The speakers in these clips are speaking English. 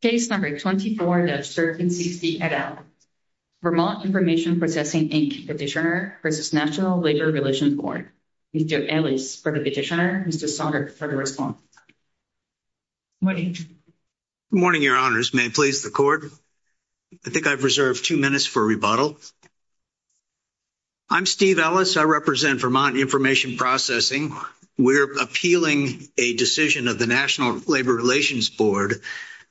Case No. 24 that serves NCC et al. Vermont Information Processing, Inc. Petitioner v. National Labor Relations Board. Steve Ellis, Petitioner v. Saunders, for the response. Good morning. Good morning, Your Honors. May it please the Court? I think I've reserved two minutes for rebuttal. I'm Steve Ellis. I represent Vermont Information Processing. We're appealing a decision of the National Labor Relations Board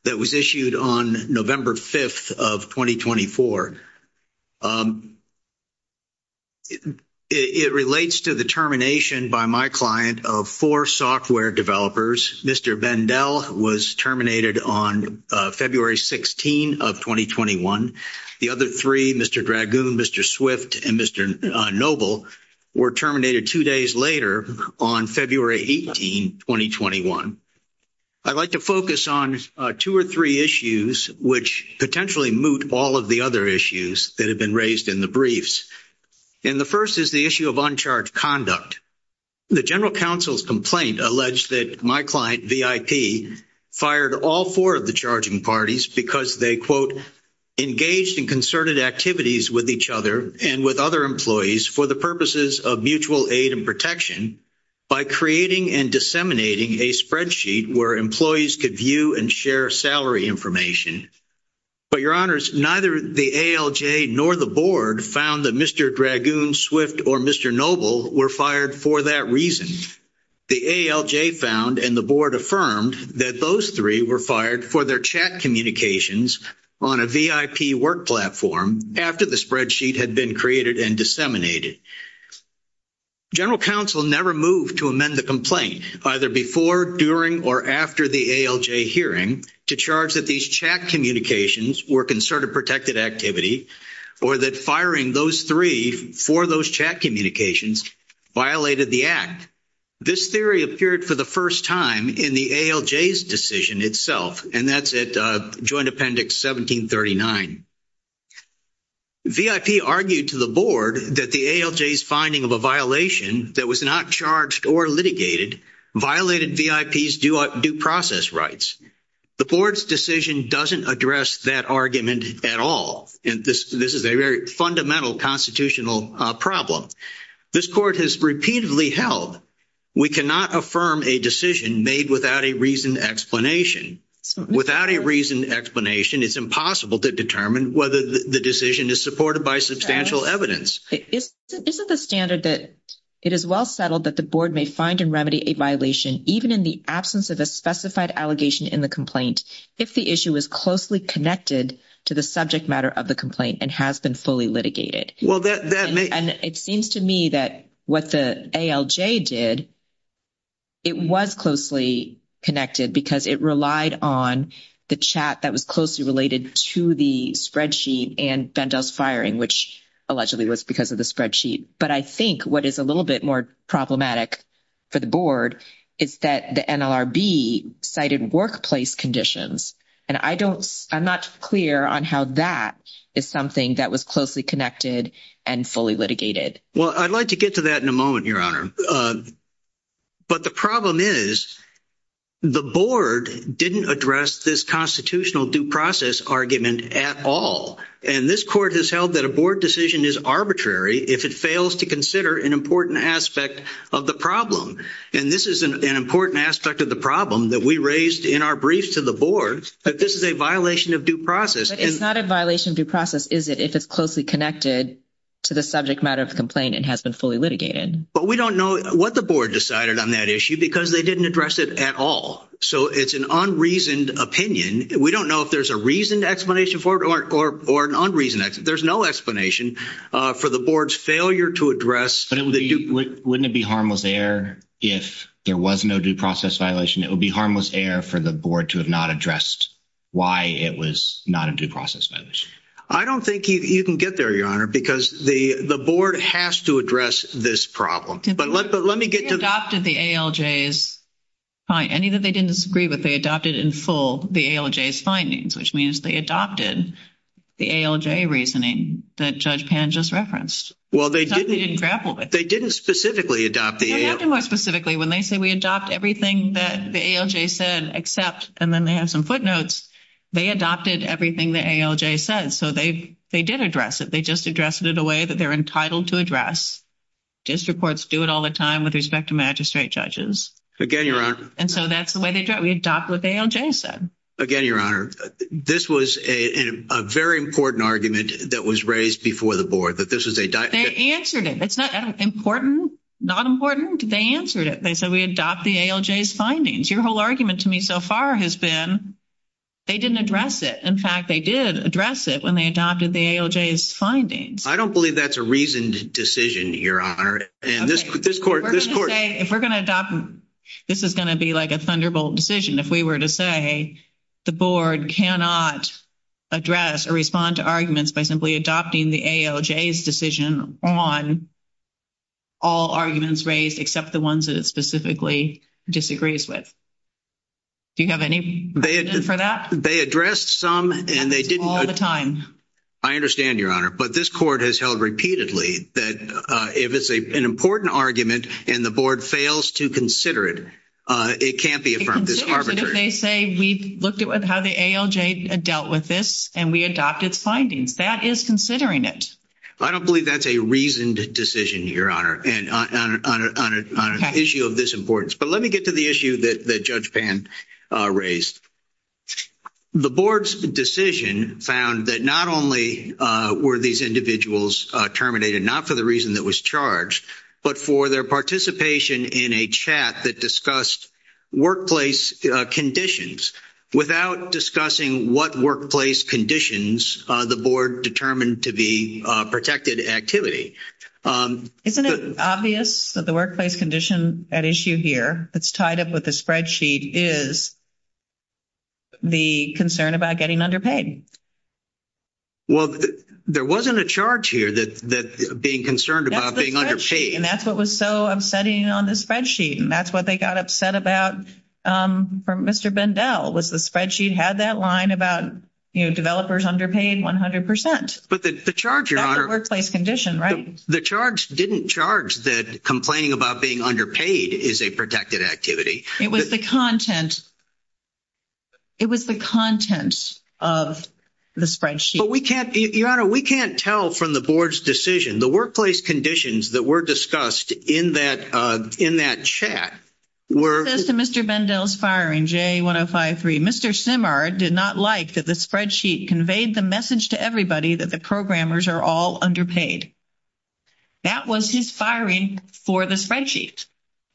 that was issued on November 5th of 2024. It relates to the termination by my client of four software developers. Mr. Bendell was terminated on February 16th of 2021. The other three, Mr. Dragoon, Mr. Swift, and Mr. Noble, were terminated two days later on February 18th, 2021. I'd like to focus on two or three issues which potentially moot all of the other issues that have been raised in the briefs. And the first is the issue of uncharged conduct. The General Counsel's complaint alleged that my client, VIP, fired all four of the charging parties because they, quote, engaged in concerted activities with each other and with other employees for the purposes of mutual aid and protection by creating and disseminating a spreadsheet where employees could view and share salary information. But, Your Honors, neither the ALJ nor the Board found that Mr. Dragoon, Swift, or Mr. Noble were fired for that reason. The ALJ found and the Board affirmed that those three were fired for their chat communications on a VIP work platform after the spreadsheet had been created and disseminated. General Counsel never moved to amend the complaint either before, during, or after the ALJ hearing to charge that these chat communications were concerted protected activity or that firing those three for those chat communications violated the Act. This theory appeared for the first time in the ALJ's decision itself, and that's at Joint Appendix 1739. VIP argued to the Board that the ALJ's finding of a violation that was not charged or litigated violated VIP's due process rights. The Board's decision doesn't address that argument at all, and this is a very fundamental constitutional problem. This Court has repeatedly held we cannot affirm a decision made without a reasoned explanation. Without a reasoned explanation, it's impossible to determine whether the decision is supported by substantial evidence. This is a standard that it is well settled that the Board may find and remedy a violation even in the absence of a specified allegation in the complaint if the issue is closely connected to the subject matter of the complaint and has been fully litigated. And it seems to me that what the ALJ did, it was closely connected because it relied on the chat that was closely related to the spreadsheet and Bendel's firing, which allegedly was because of the spreadsheet. But I think what is a little bit more problematic for the Board is that the NLRB cited workplace conditions, and I'm not clear on how that is something that was closely connected and fully litigated. Well, I'd like to get to that in a moment, Your Honor. But the problem is the Board didn't address this constitutional due process argument at all. And this Court has held that a Board decision is arbitrary if it fails to consider an important aspect of the problem. And this is an important aspect of the problem that we raised in our briefs to the Board, that this is a violation of due process. But it's not a violation of due process, is it, if it's closely connected to the subject matter of the complaint and has been fully litigated? But we don't know what the Board decided on that issue because they didn't address it at all. So it's an unreasoned opinion. We don't know if there's a reasoned explanation for it or an unreasoned explanation. There's no explanation for the Board's failure to address... Wouldn't it be harmless error if there was no due process violation? It would be harmless error for the Board to have not addressed why it was not a due process violation. I don't think you can get there, Your Honor, because the Board has to address this problem. But let me get to that. They adopted the ALJ's... Any that they didn't agree with, they adopted in full the ALJ's findings, which means they adopted the ALJ reasoning that Judge Pan just referenced. Well, they didn't... It's not that they didn't grapple with it. They didn't specifically adopt the ALJ. They did more specifically. When they say, we adopt everything that the ALJ said, except... And then they have some footnotes. They adopted everything the ALJ said. So they did address it. They just addressed it in a way that they're entitled to address. Justice reports do it all the time with respect to magistrate judges. Again, Your Honor... And so that's the way they do it. We adopt what the ALJ said. Again, Your Honor, this was a very important argument that was raised before the Board. But this is a... They answered it. It's not important, not important. They answered it. They said, we adopt the ALJ's findings. Your whole argument to me so far has been they didn't address it. In fact, they did address it when they adopted the ALJ's findings. I don't believe that's a reasoned decision, Your Honor. And this Court... If we're going to adopt... This is going to be like a thunderbolt decision. If we were to say the Board cannot address or respond to arguments by simply adopting the ALJ's decision on all arguments raised, except the ones that it specifically disagrees with. Do you have any reason for that? They addressed some and they didn't... All the time. I understand, Your Honor. But this Court has held repeatedly that if it's an important argument and the Board fails to consider it, it can't be affirmed. It's arbitrary. But if they say, we looked at how the ALJ dealt with this and we adopted findings, that is considering it. I don't believe that's a reasoned decision, Your Honor, on an issue of this importance. But let me get to the issue that Judge Pan raised. The Board's decision found that not only were these individuals terminated not for the reason that was charged, but for their participation in a chat that discussed workplace conditions. Without discussing what workplace conditions, the Board determined to be protected activity. Isn't it obvious that the workplace condition at issue here that's tied up with the spreadsheet is the concern about getting underpaid? Well, there wasn't a charge here that being concerned about being underpaid. That's the spreadsheet. And that's what was so upsetting on the spreadsheet. And that's what they got upset about from Mr. Bendell was the spreadsheet had that line about developers underpaid 100%. But the charge, Your Honor... That's a workplace condition, right? The charge didn't charge that complaining about being underpaid is a protected activity. It was the content. It was the content of the spreadsheet. But we can't, Your Honor, we can't tell from the Board's decision. The workplace conditions that were discussed in that chat were... Mr. Bendell's firing, JA1053, Mr. Simard did not like that the spreadsheet conveyed the message to everybody that the programmers are all underpaid. That was his firing for the spreadsheet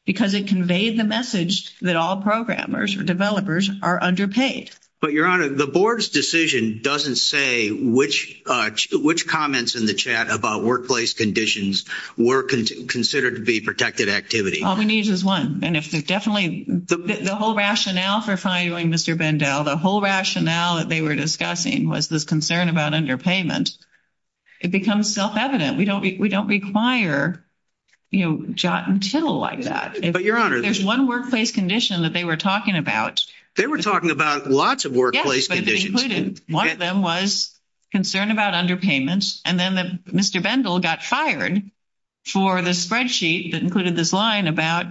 because it conveyed the message that all programmers, developers are underpaid. But, Your Honor, the Board's decision doesn't say which comments in the chat about workplace conditions were considered to be protected activity. All it needs is one. And if it definitely... The whole rationale for firing Mr. Bendell, the whole rationale that they were discussing was this concern about underpayment. It becomes self-evident. We don't require, you know, jot and tittle like that. But, Your Honor... There's one workplace condition that they were talking about. They were talking about lots of workplace conditions. Yes, but it included... One of them was concern about underpayments. And then Mr. Bendell got fired for the spreadsheet that included this line about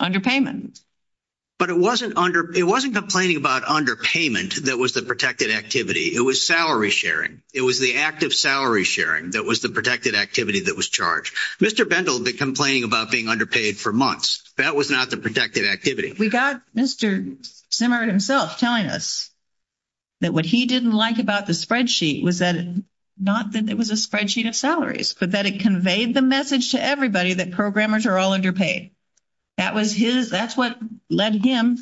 underpayments. But it wasn't under... It wasn't complaining about underpayment that was the protected activity. It was salary sharing. It was the act of salary sharing that was the protected activity that was charged. Mr. Bendell did complain about being underpaid for months. That was not the protected activity. We got Mr. Zimmer himself telling us that what he didn't like about the spreadsheet was that it... Not that it was a spreadsheet of salaries, but that it conveyed the message to everybody that programmers are all underpaid. That was his... That's what led him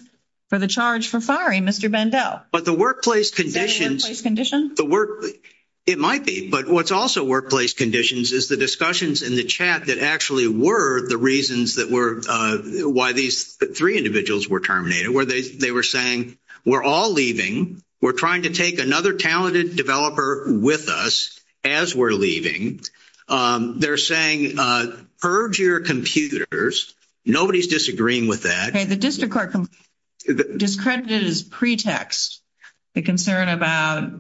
for the charge for firing Mr. Bendell. But the workplace conditions... Is that a workplace condition? The work... It might be. But what's also workplace conditions is the discussions in the chat that actually were the reasons that were... Why these three individuals were terminated. They were saying, we're all leaving. We're trying to take another talented developer with us as we're leaving. They're saying, purge your computers. Nobody's disagreeing with that. Okay. The district court discredited as pretext the concern about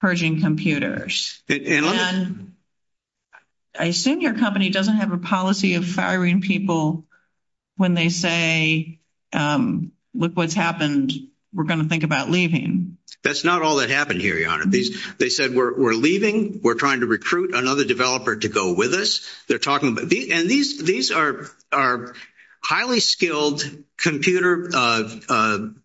purging computers. And I assume your company doesn't have a policy of firing people when they say, look what's happened. We're going to think about leaving. That's not all that happened here, Your Honor. They said, we're leaving. We're trying to recruit another developer to go with us. They're talking about... And these are highly skilled computer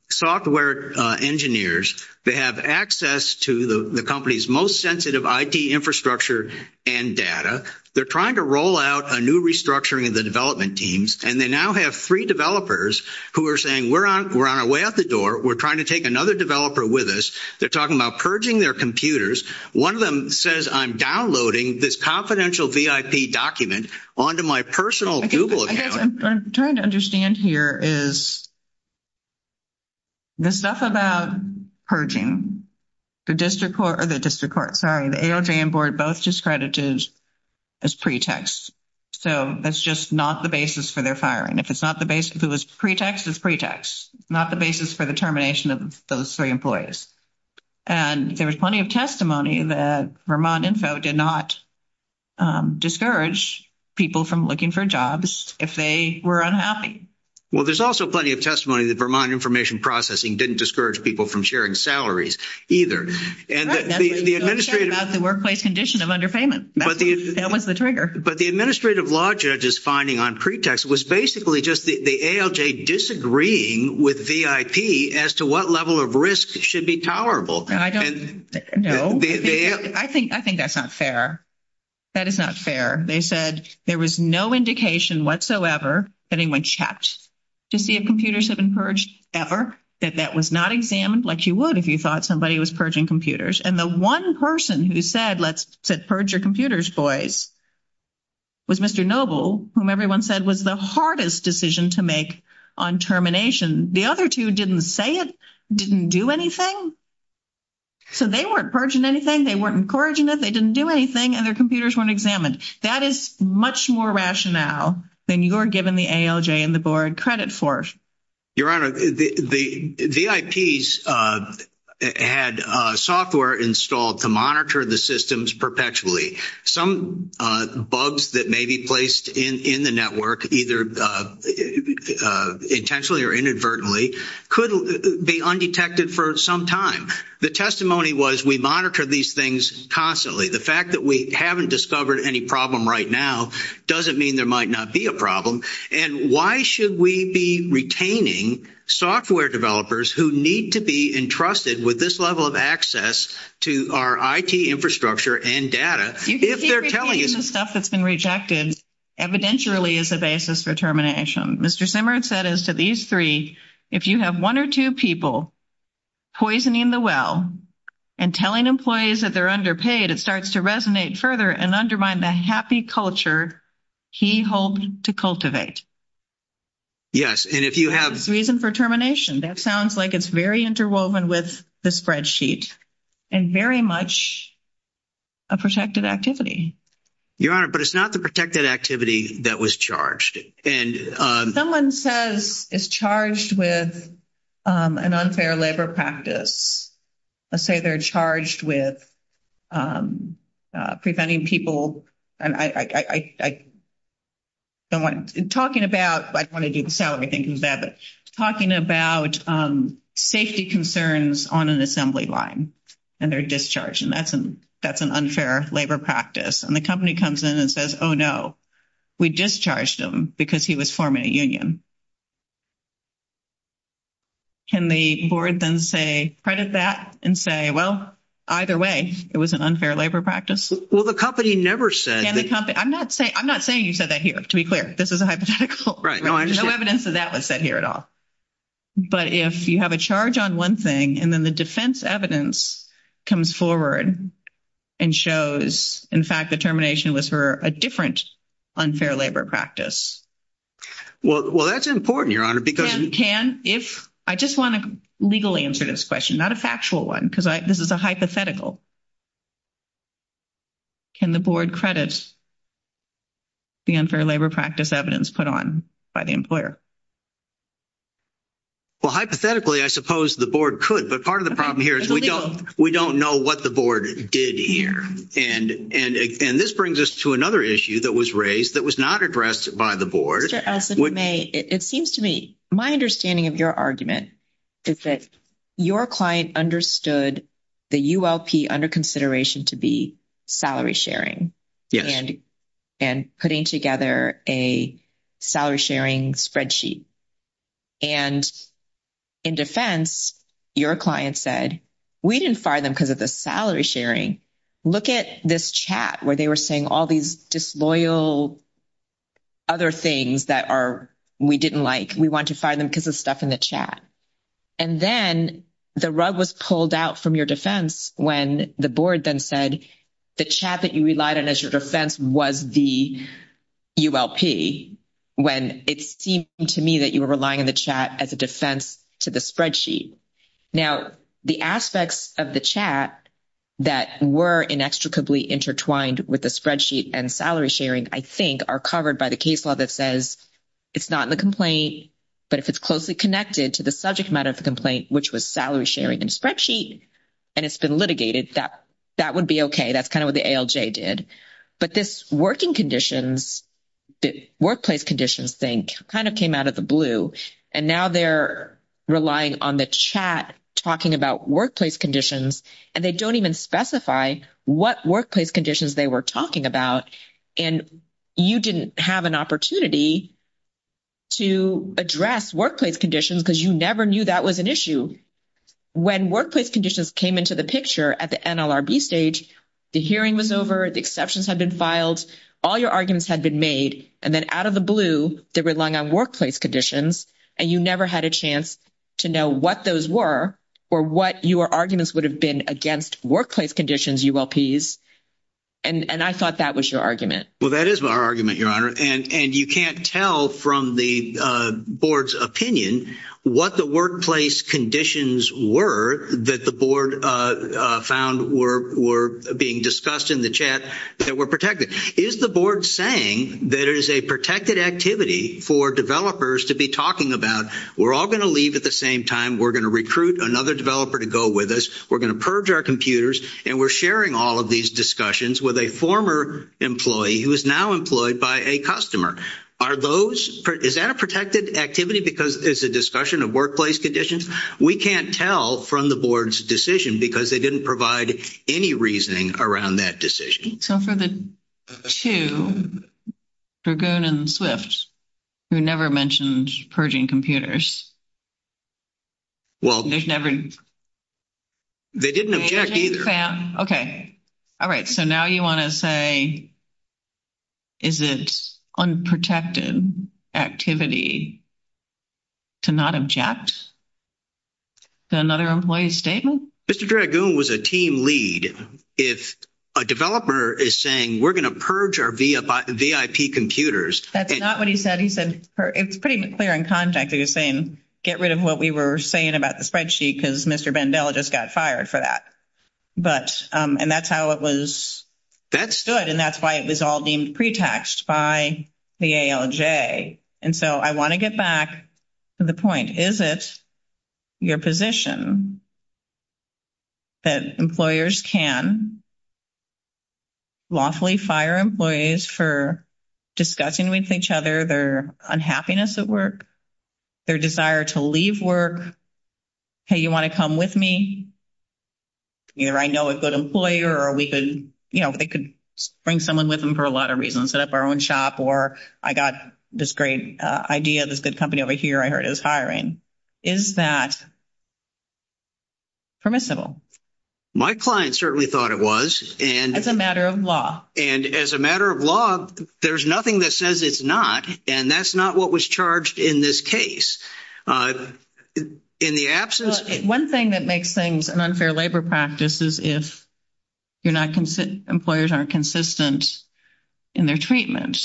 software engineers. They have access to the company's most sensitive IT infrastructure and data. They're trying to roll out a new restructuring of the development teams. And they now have three developers who are saying, we're on our way out the door. We're trying to take another developer with us. They're talking about purging their computers. One of them says, I'm downloading this confidential VIP document onto my personal Google account. What I'm trying to understand here is the stuff about purging, the district court or the district court, sorry, the AOJ and board both discredited as pretext. So that's just not the basis for their firing. If it's not the basis, if it was pretext, it's pretext. Not the basis for the termination of those three employees. And there was plenty of testimony that Vermont Info did not discourage people from looking for jobs if they were unhappy. Well, there's also plenty of testimony that Vermont Information Processing didn't discourage people from sharing salaries either. And the administrative... That's the workplace condition of underpayment. That was the trigger. But the administrative law judge's finding on pretext was basically just the AOJ disagreeing with VIP as to what level of risk should be tolerable. No. I think that's not fair. That is not fair. They said there was no indication whatsoever that anyone checked to see if computers had been purged ever. That that was not examined like you would if you thought somebody was purging computers. And the one person who said, let's purge your computers, boys, was Mr. Noble, whom everyone said was the hardest decision to make on termination. The other two didn't say it, didn't do anything. So they weren't purging anything. They weren't encouraging it. They didn't do anything. And their computers weren't examined. That is much more rationale than you are giving the AOJ and the board credit for. Your Honor, the VIPs had software installed to monitor the systems perpetually. Some bugs that may be placed in the network, either intentionally or inadvertently, could be undetected for some time. The testimony was we monitor these things constantly. The fact that we haven't discovered any problem right now doesn't mean there might not be a problem. And why should we be retaining software developers who need to be entrusted with this level of access to our IT infrastructure and data? If they're telling you- The stuff that's been rejected evidentially is a basis for termination. Mr. Simard said as to these three, if you have one or two people poisoning the well and telling employees that they're underpaid, it starts to resonate further and undermine the happy culture he holds to cultivate. Yes. And if you have- Reason for termination. That sounds like it's very interwoven with the spreadsheet and very much a protected activity. Your Honor, but it's not the protected activity that was charged. Someone says it's charged with an unfair labor practice. Let's say they're charged with preventing people. I don't want to- Talking about- I don't want to get the salary thinking is that, but talking about safety concerns on an assembly line and they're discharged. And that's an unfair labor practice. And the company comes in and says, oh, no, we discharged him because he was forming a union. Can the board then say credit that and say, well, either way, it was an unfair labor practice. Well, the company never said- I'm not saying you said that here, to be clear. This is a hypothetical. Right. No evidence of that was said here at all. But if you have a charge on one thing and then the defense evidence comes forward and shows, in fact, the termination was for a different unfair labor practice. Well, that's important, Your Honor, because- Can, if- I just want to legally answer this question, not a factual one, because this is a hypothetical. Can the board credit the unfair labor practice evidence put on by the employer? Well, hypothetically, I suppose the board could. But part of the problem here is we don't know what the board did here. And this brings us to another issue that was raised that was not addressed by the board. It seems to me, my understanding of your argument is that your client understood the ULP under consideration to be salary sharing and putting together a salary sharing spreadsheet. And in defense, your client said, we didn't fire them because of the salary sharing. Look at this chat where they were saying all these disloyal other things that we didn't like. We want to fire them because of stuff in the chat. And then the rug was pulled out from your defense when the board then said the chat that you relied on as your defense was the ULP, when it seemed to me that you were relying on the chat as a defense to the spreadsheet. Now, the aspects of the chat that were inextricably intertwined with the spreadsheet and salary sharing, I think, are covered by the case law that says it's not in the complaint. But if it's closely connected to the subject matter of the complaint, which was salary sharing and spreadsheet, and it's been litigated, that would be okay. That's kind of what the ALJ did. But this working conditions, workplace conditions, I think, kind of came out of the blue. And now they're relying on the chat talking about workplace conditions, and they don't even specify what workplace conditions they were talking about. And you didn't have an opportunity to address workplace conditions because you never knew that was an issue. When workplace conditions came into the picture at the NLRB stage, the hearing was over, the exceptions had been filed, all your arguments had been made. And then out of the blue, they were relying on workplace conditions, and you never had a chance to know what those were or what your arguments would have been against workplace conditions ULPs. And I thought that was your argument. Well, that is my argument, Your Honor. And you can't tell from the board's opinion what the workplace conditions were that the board found were being discussed in the chat that were protected. Is the board saying that it is a protected activity for developers to be talking about, we're all going to leave at the same time, we're going to recruit another developer to go with us, we're going to purge our computers, and we're sharing all of these discussions with a former employee who is now employed by a customer. Are those, is that a protected activity because it's a discussion of workplace conditions? We can't tell from the board's decision because they didn't provide any reasoning around that decision. So for the two, for Goon and Swift, who never mentioned purging computers. Well, they didn't object either. Okay. All right. So now you want to say is it unprotected activity to not object to another employee's statement? Mr. Dragoon was a team lead. If a developer is saying we're going to purge our VIP computers. That's not what he said. It's pretty clear in context that you're saying get rid of what we were saying about the spreadsheet because Mr. Bendella just got fired for that. But, and that's how it was, that stood and that's why it was all deemed pre-taxed by the ALJ. And so I want to get back to the point. Is it your position that employers can lawfully fire employees for discussing with each other their unhappiness at work, their desire to leave work? Hey, you want to come with me? Either I know a good employer or we could, you know, they could bring someone with them for a lot of reasons. We could go and set up our own shop or I got this great idea, this good company over here I heard is hiring. Is that permissible? My client certainly thought it was. It's a matter of law. And as a matter of law, there's nothing that says it's not. And that's not what was charged in this case. One thing that makes things an unfair labor practice is if employers aren't consistent in their treatment.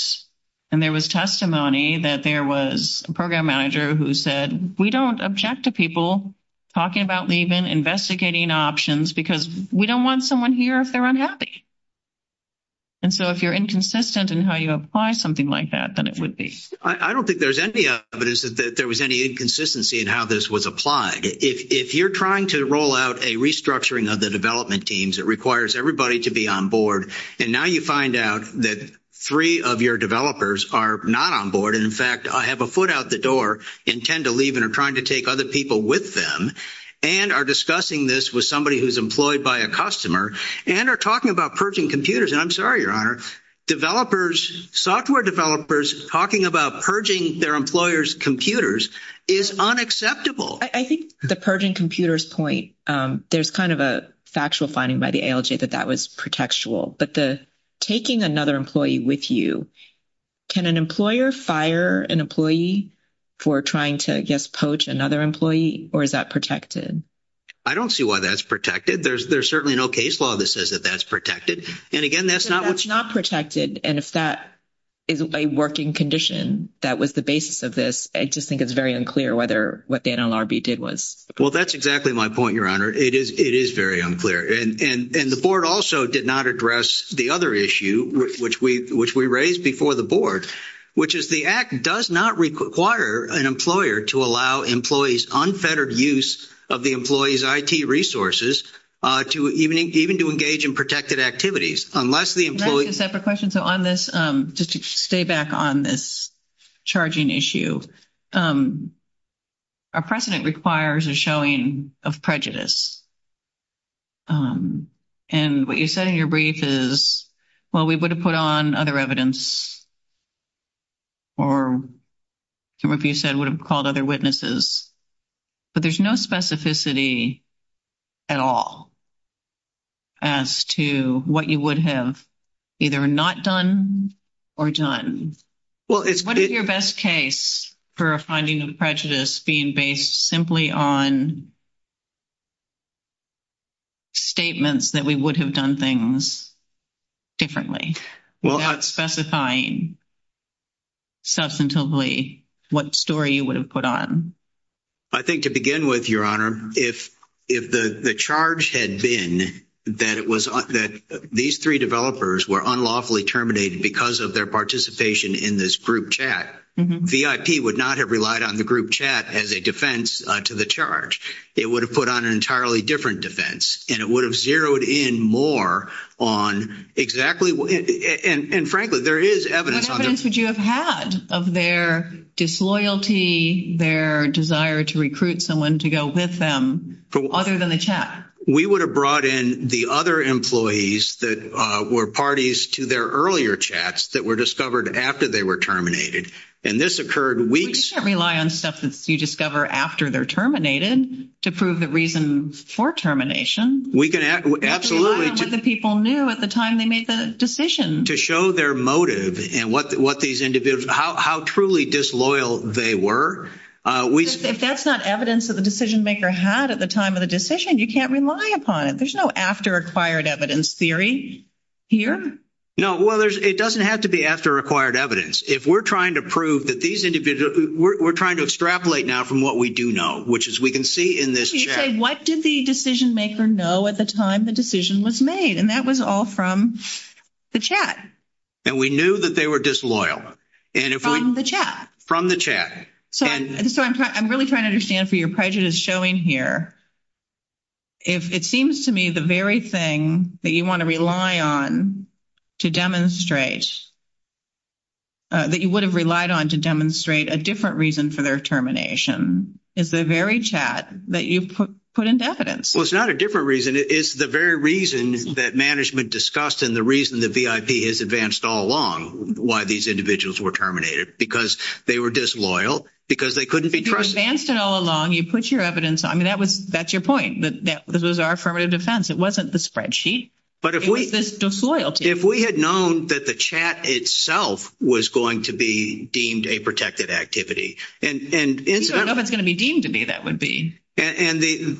And there was testimony that there was a program manager who said we don't object to people talking about leaving, investigating options, because we don't want someone here if they're unhappy. And so if you're inconsistent in how you apply something like that, then it would be. I don't think there's any evidence that there was any inconsistency in how this was applied. If you're trying to roll out a restructuring of the development teams, it requires everybody to be on board. And now you find out that three of your developers are not on board. And, in fact, I have a foot out the door and tend to leave and are trying to take other people with them. And are discussing this with somebody who's employed by a customer. And are talking about purging computers. And I'm sorry, R. Developers, software developers, talking about purging their employers' computers is unacceptable. I think the purging computers point, there's kind of a factual finding by the ALJ that that was protectual. But the taking another employee with you, can an employer fire an employee for trying to, I guess, poach another employee? Or is that protected? I don't see why that's protected. There's certainly no case law that says that that's protected. And, again, that's not what's. That's not protected. And if that isn't a working condition, that was the basis of this. I just think it's very unclear what the NLRB did was. Well, that's exactly my point, Your Honor. It is very unclear. And the board also did not address the other issue, which we raised before the board. Which is the act does not require an employer to allow employees unfettered use of the employee's IT resources, even to engage in protected activities. Unless the employee. Can I ask a separate question? So on this, just to stay back on this charging issue. Our precedent requires a showing of prejudice. And what you said in your brief is, well, we would have put on other evidence. Or some of you said would have called other witnesses. But there's no specificity at all. As to what you would have either not done or done. What is your best case for a finding of prejudice being based simply on statements that we would have done things differently? Without specifying substantively what story you would have put on. I think to begin with, Your Honor. If the charge had been that these three developers were unlawfully terminated because of their participation in this group chat. VIP would not have relied on the group chat as a defense to the charge. It would have put on an entirely different defense. And it would have zeroed in more on exactly. And frankly, there is evidence. What evidence would you have had of their disloyalty, their desire to recruit someone to go with them other than the chat? We would have brought in the other employees that were parties to their earlier chats that were discovered after they were terminated. And this occurred weeks. You can't rely on stuff that you discover after they're terminated to prove the reasons for termination. We can absolutely. People knew at the time they made the decision. To show their motive and what these individuals, how truly disloyal they were. If that's not evidence that the decision-maker had at the time of the decision, you can't rely upon it. There's no after-acquired evidence theory here. No. Well, it doesn't have to be after-acquired evidence. If we're trying to prove that these individuals, we're trying to extrapolate now from what we do know, which is we can see in this chat. What did the decision-maker know at the time the decision was made? And that was all from the chat. And we knew that they were disloyal. From the chat. From the chat. So I'm really trying to understand for your prejudice showing here. If it seems to me the very thing that you want to rely on to demonstrate, that you would have relied on to demonstrate a different reason for their termination is the very chat that you put in definite. Well, it's not a different reason. It's the very reason that management discussed and the reason that VIP has advanced all along why these individuals were terminated. Because they were disloyal. Because they couldn't be trusted. You advanced it all along. You put your evidence. I mean, that's your point. That was our affirmative defense. It wasn't the spreadsheet. It was this disloyalty. But if we had known that the chat itself was going to be deemed a protected activity. If it's going to be deemed to be, that would be. And the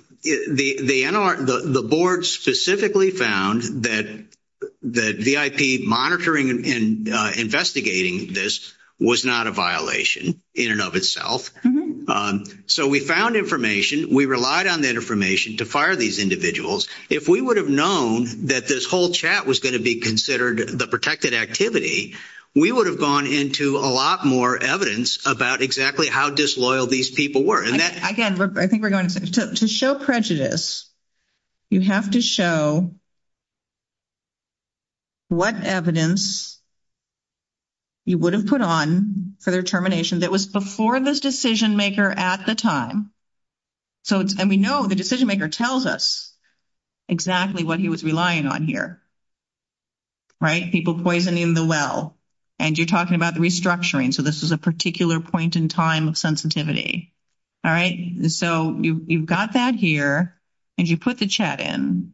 board specifically found that VIP monitoring and investigating this was not a violation in and of itself. So we found information. We relied on that information to fire these individuals. If we would have known that this whole chat was going to be considered the protected activity, we would have gone into a lot more evidence about exactly how disloyal these people were. Again, I think we're going to show prejudice. You have to show what evidence you would have put on for their termination that was before the decision maker at the time. And we know the decision maker tells us exactly what he was relying on here. Right? People poisoning the well. And you're talking about restructuring. So this is a particular point in time of sensitivity. All right? So you've got that here. And you put the chat in.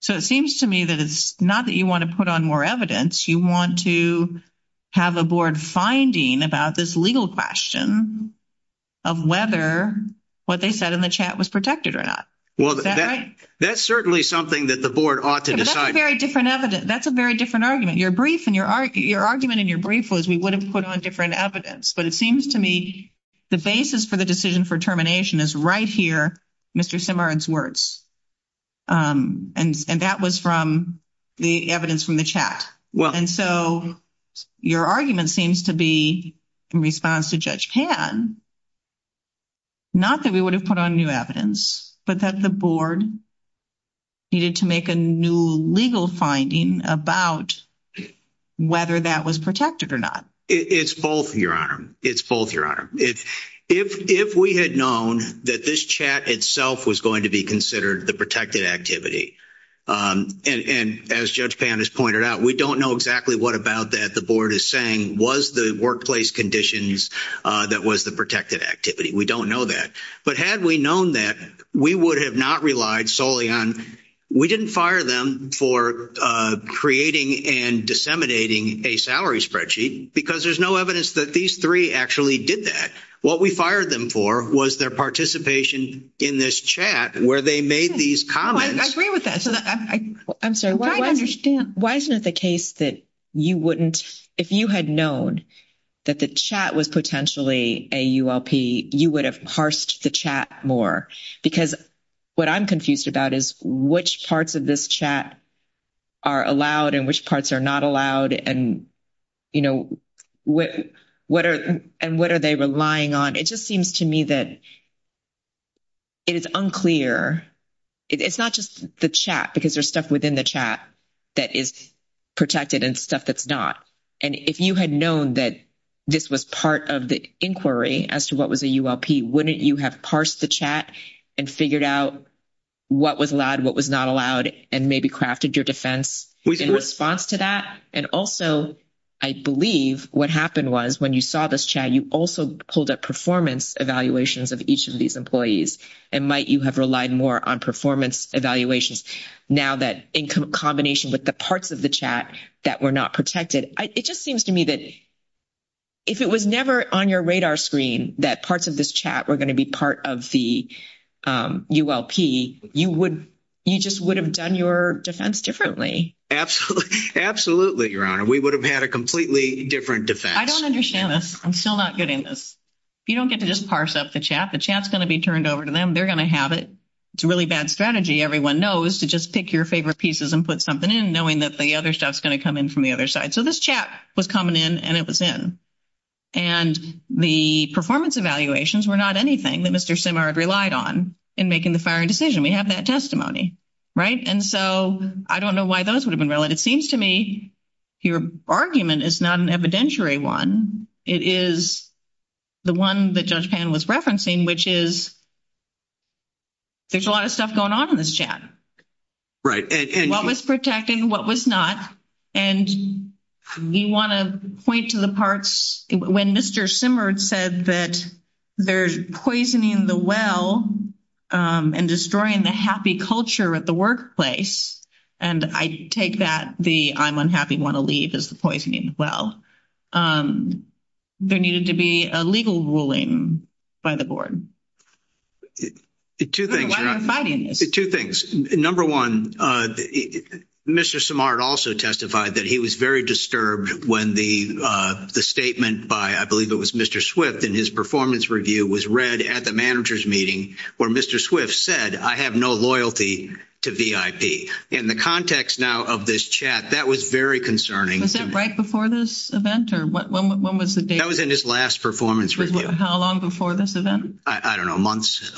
So it seems to me that it's not that you want to put on more evidence. You want to have a board finding about this legal question of whether what they said in the chat was protected or not. Is that right? That's certainly something that the board ought to decide. That's a very different argument. Your argument in your brief was we would have put on different evidence. But it seems to me the basis for the decision for termination is right here, Mr. Simard's words. And that was from the evidence from the chat. And so your argument seems to be in response to Judge Pan, not that we would have put on new evidence, but that the board needed to make a new legal finding about whether that was protected or not. It's both, Your Honor. It's both, Your Honor. If we had known that this chat itself was going to be considered the protected activity, and as Judge Pan has pointed out, we don't know exactly what about that the board is saying was the workplace conditions that was the protected activity. We don't know that. But had we known that, we would have not relied solely on, we didn't fire them for creating and disseminating a salary spreadsheet, because there's no evidence that these three actually did that. What we fired them for was their participation in this chat where they made these comments. I agree with that. I'm sorry. I understand. Why isn't it the case that you wouldn't, if you had known that the chat was potentially a ULP, you would have parsed the chat more? Because what I'm confused about is which parts of this chat are allowed and which parts are not allowed, and, you know, what are they relying on? It just seems to me that it is unclear. It's not just the chat, because there's stuff within the chat that is protected and stuff that's not. And if you had known that this was part of the inquiry as to what was a ULP, wouldn't you have parsed the chat and figured out what was allowed, what was not allowed, and maybe crafted your defense in response to that? And also, I believe what happened was when you saw this chat, you also pulled up performance evaluations of each of these employees, and might you have relied more on performance evaluations now that, in combination with the parts of the chat that were not protected. It just seems to me that if it was never on your radar screen that parts of this chat were going to be part of the ULP, you just would have done your defense differently. Absolutely, Your Honor. We would have had a completely different defense. I don't understand this. I'm still not getting this. If you don't get to just parse out the chat, the chat's going to be turned over to them. They're going to have it. It's a really bad strategy, everyone knows, to just pick your favorite pieces and put something in, knowing that the other stuff's going to come in from the other side. So this chat was coming in, and it was in. And the performance evaluations were not anything that Mr. Simard relied on in making the firing decision. We have that testimony, right? And so I don't know why those would have been relevant. It seems to me your argument is not an evidentiary one. It is the one that Judge Pan was referencing, which is there's a lot of stuff going on in this chat. Right. What was protected, what was not. And we want to point to the parts. When Mr. Simard said that they're poisoning the well and destroying the happy culture at the workplace, and I take that, the I'm unhappy, want to leave is poisoning the well. There needed to be a legal ruling by the board. Two things. Number one, Mr. Simard also testified that he was very disturbed when the statement by, I believe it was Mr. Swift, in his performance review was read at the manager's meeting where Mr. Swift said, I have no loyalty to VIP. In the context now of this chat, that was very concerning. Was that right before this event or when was the date? That was in his last performance review. How long before this event? I don't know, months.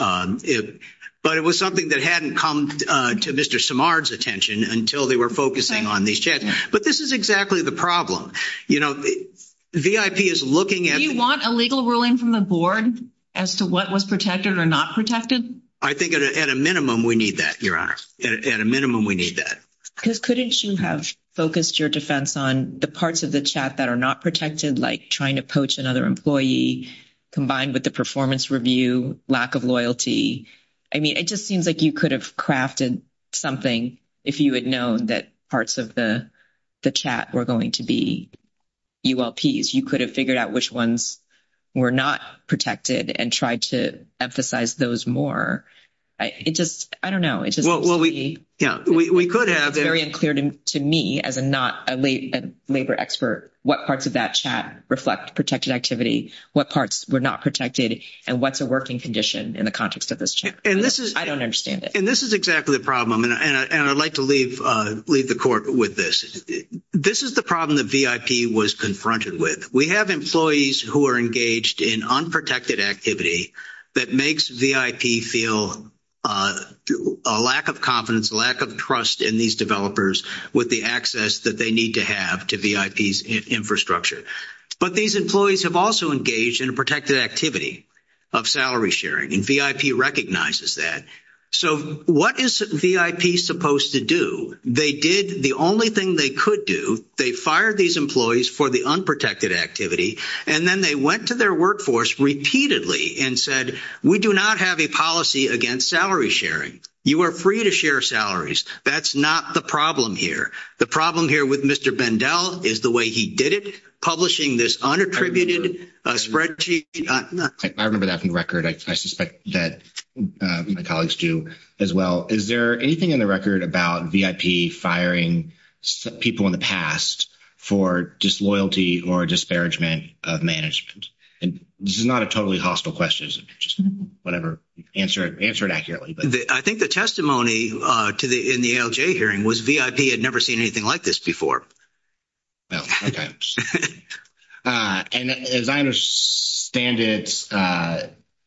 But it was something that hadn't come to Mr. Simard's attention until they were focusing on these chats. But this is exactly the problem. You know, VIP is looking at the- Mr. Simard, as to what was protected or not protected? I think at a minimum we need that, Your Honor. At a minimum we need that. Couldn't you have focused your defense on the parts of the chat that are not protected, like trying to poach another employee, combined with the performance review, lack of loyalty? I mean, it just seems like you could have crafted something if you had known that parts of the chat were going to be ULPs. You could have figured out which ones were not protected and tried to emphasize those more. It just, I don't know. Well, we could have- It's very unclear to me, as a not a labor expert, what parts of that chat reflect protected activity, what parts were not protected, and what's a working condition in the context of this chat. I don't understand it. And this is exactly the problem, and I'd like to leave the court with this. This is the problem that VIP was confronted with. We have employees who are engaged in unprotected activity that makes VIP feel a lack of confidence, a lack of trust in these developers with the access that they need to have to VIP's infrastructure. But these employees have also engaged in a protected activity of salary sharing, and VIP recognizes that. So what is VIP supposed to do? So they did the only thing they could do. They fired these employees for the unprotected activity, and then they went to their workforce repeatedly and said, we do not have a policy against salary sharing. You are free to share salaries. That's not the problem here. The problem here with Mr. Bendell is the way he did it, publishing this unattributed spreadsheet- I remember that from the record. I suspect that my colleagues do as well. Is there anything in the record about VIP firing people in the past for disloyalty or disparagement of management? And this is not a totally hostile question. It's just whatever. Answer it accurately. I think the testimony in the ALJ hearing was VIP had never seen anything like this before. Oh, okay. And as I understand it,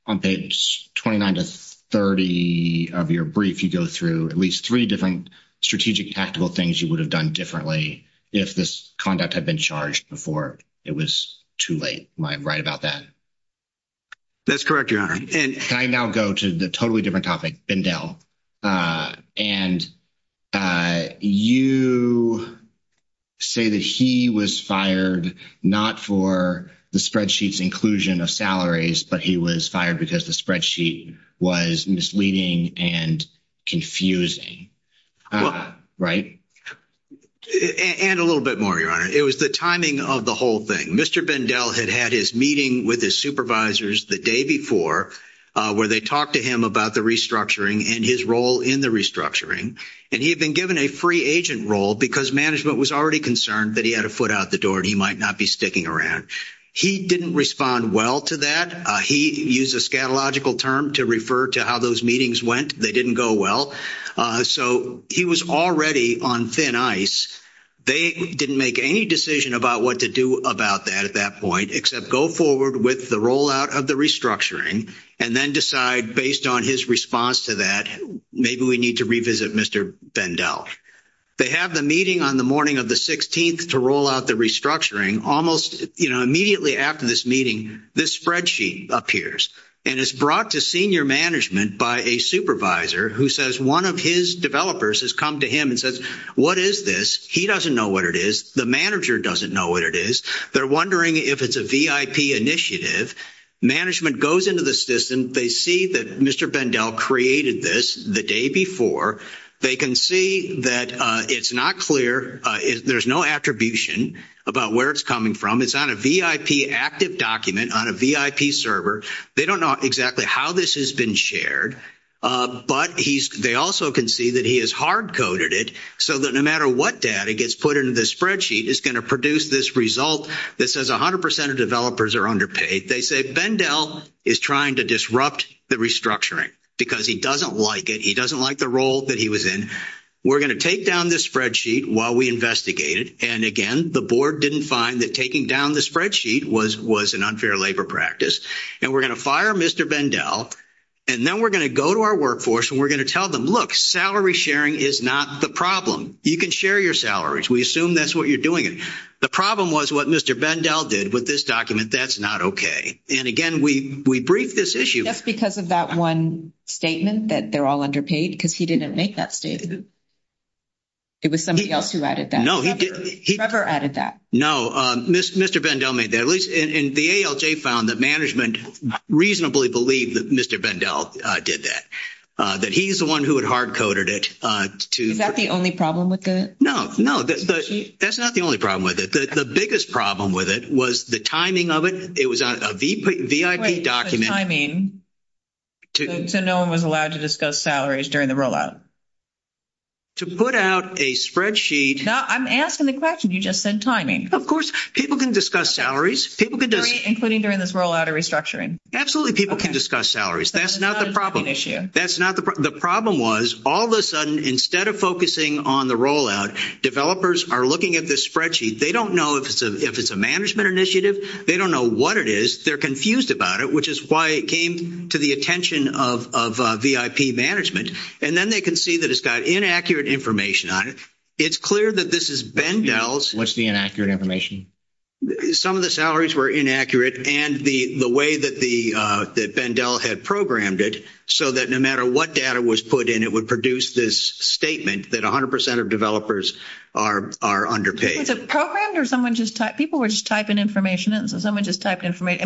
on page 29 to 30 of your brief, you go through at least three different strategic, tactical things you would have done differently if this conduct had been charged before. It was too late. Am I right about that? That's correct, Your Honor. Can I now go to the totally different topic, Bendell? And you say that he was fired not for the spreadsheet's inclusion of salaries, but he was fired because the spreadsheet was misleading and confusing. Right? And a little bit more, Your Honor. It was the timing of the whole thing. Mr. Bendell had had his meeting with his supervisors the day before where they talked to him about the restructuring and his role in the restructuring. And he had been given a free agent role because management was already concerned that he had a foot out the door and he might not be sticking around. He didn't respond well to that. He used a scatological term to refer to how those meetings went. They didn't go well. So he was already on thin ice. They didn't make any decision about what to do about that at that point except go forward with the rollout of the restructuring and then decide, based on his response to that, maybe we need to revisit Mr. Bendell. They have the meeting on the morning of the 16th to roll out the restructuring. Immediately after this meeting, this spreadsheet appears. And it's brought to senior management by a supervisor who says one of his developers has come to him and says, what is this? He doesn't know what it is. The manager doesn't know what it is. They're wondering if it's a VIP initiative. Management goes into the system. They see that Mr. Bendell created this the day before. They can see that it's not clear. There's no attribution about where it's coming from. It's on a VIP active document on a VIP server. They don't know exactly how this has been shared. But they also can see that he has hardcoded it so that no matter what data gets put into the spreadsheet it's going to produce this result that says 100% of developers are underpaid. They say Bendell is trying to disrupt the restructuring because he doesn't like it. He doesn't like the role that he was in. We're going to take down this spreadsheet while we investigate it. And again, the board didn't find that taking down the spreadsheet was an unfair labor practice. And we're going to fire Mr. Bendell. And then we're going to go to our workforce and we're going to tell them, look, salary sharing is not the problem. You can share your salaries. We assume that's what you're doing. The problem was what Mr. Bendell did with this document. That's not okay. And again, we briefed this issue. Just because of that one statement that they're all underpaid because he didn't make that statement. It was somebody else who added that. No. Mr. Bendell made that. And the ALJ found that management reasonably believed that Mr. Bendell did that. That he's the one who had hard-coded it. Is that the only problem with it? No. That's not the only problem with it. The biggest problem with it was the timing of it. It was a VIP document. You just said timing. So no one was allowed to discuss salaries during the rollout. To put out a spreadsheet. No, I'm asking the question. You just said timing. Of course, people can discuss salaries. Including during this rollout and restructuring. Absolutely, people can discuss salaries. That's not the problem. The problem was, all of a sudden, instead of focusing on the rollout, developers are looking at this spreadsheet. They don't know if it's a management initiative. They don't know what it is. They're confused about it. Which is why it came to the attention of VIP management. And then they can see that it's got inaccurate information on it. It's clear that this is Bendell's. Some of the salaries were inaccurate. And the way that Bendell had programmed it, so that no matter what data was put in, it would produce this statement that 100% of developers are underpaid. Is it programmed? People were just typing information in.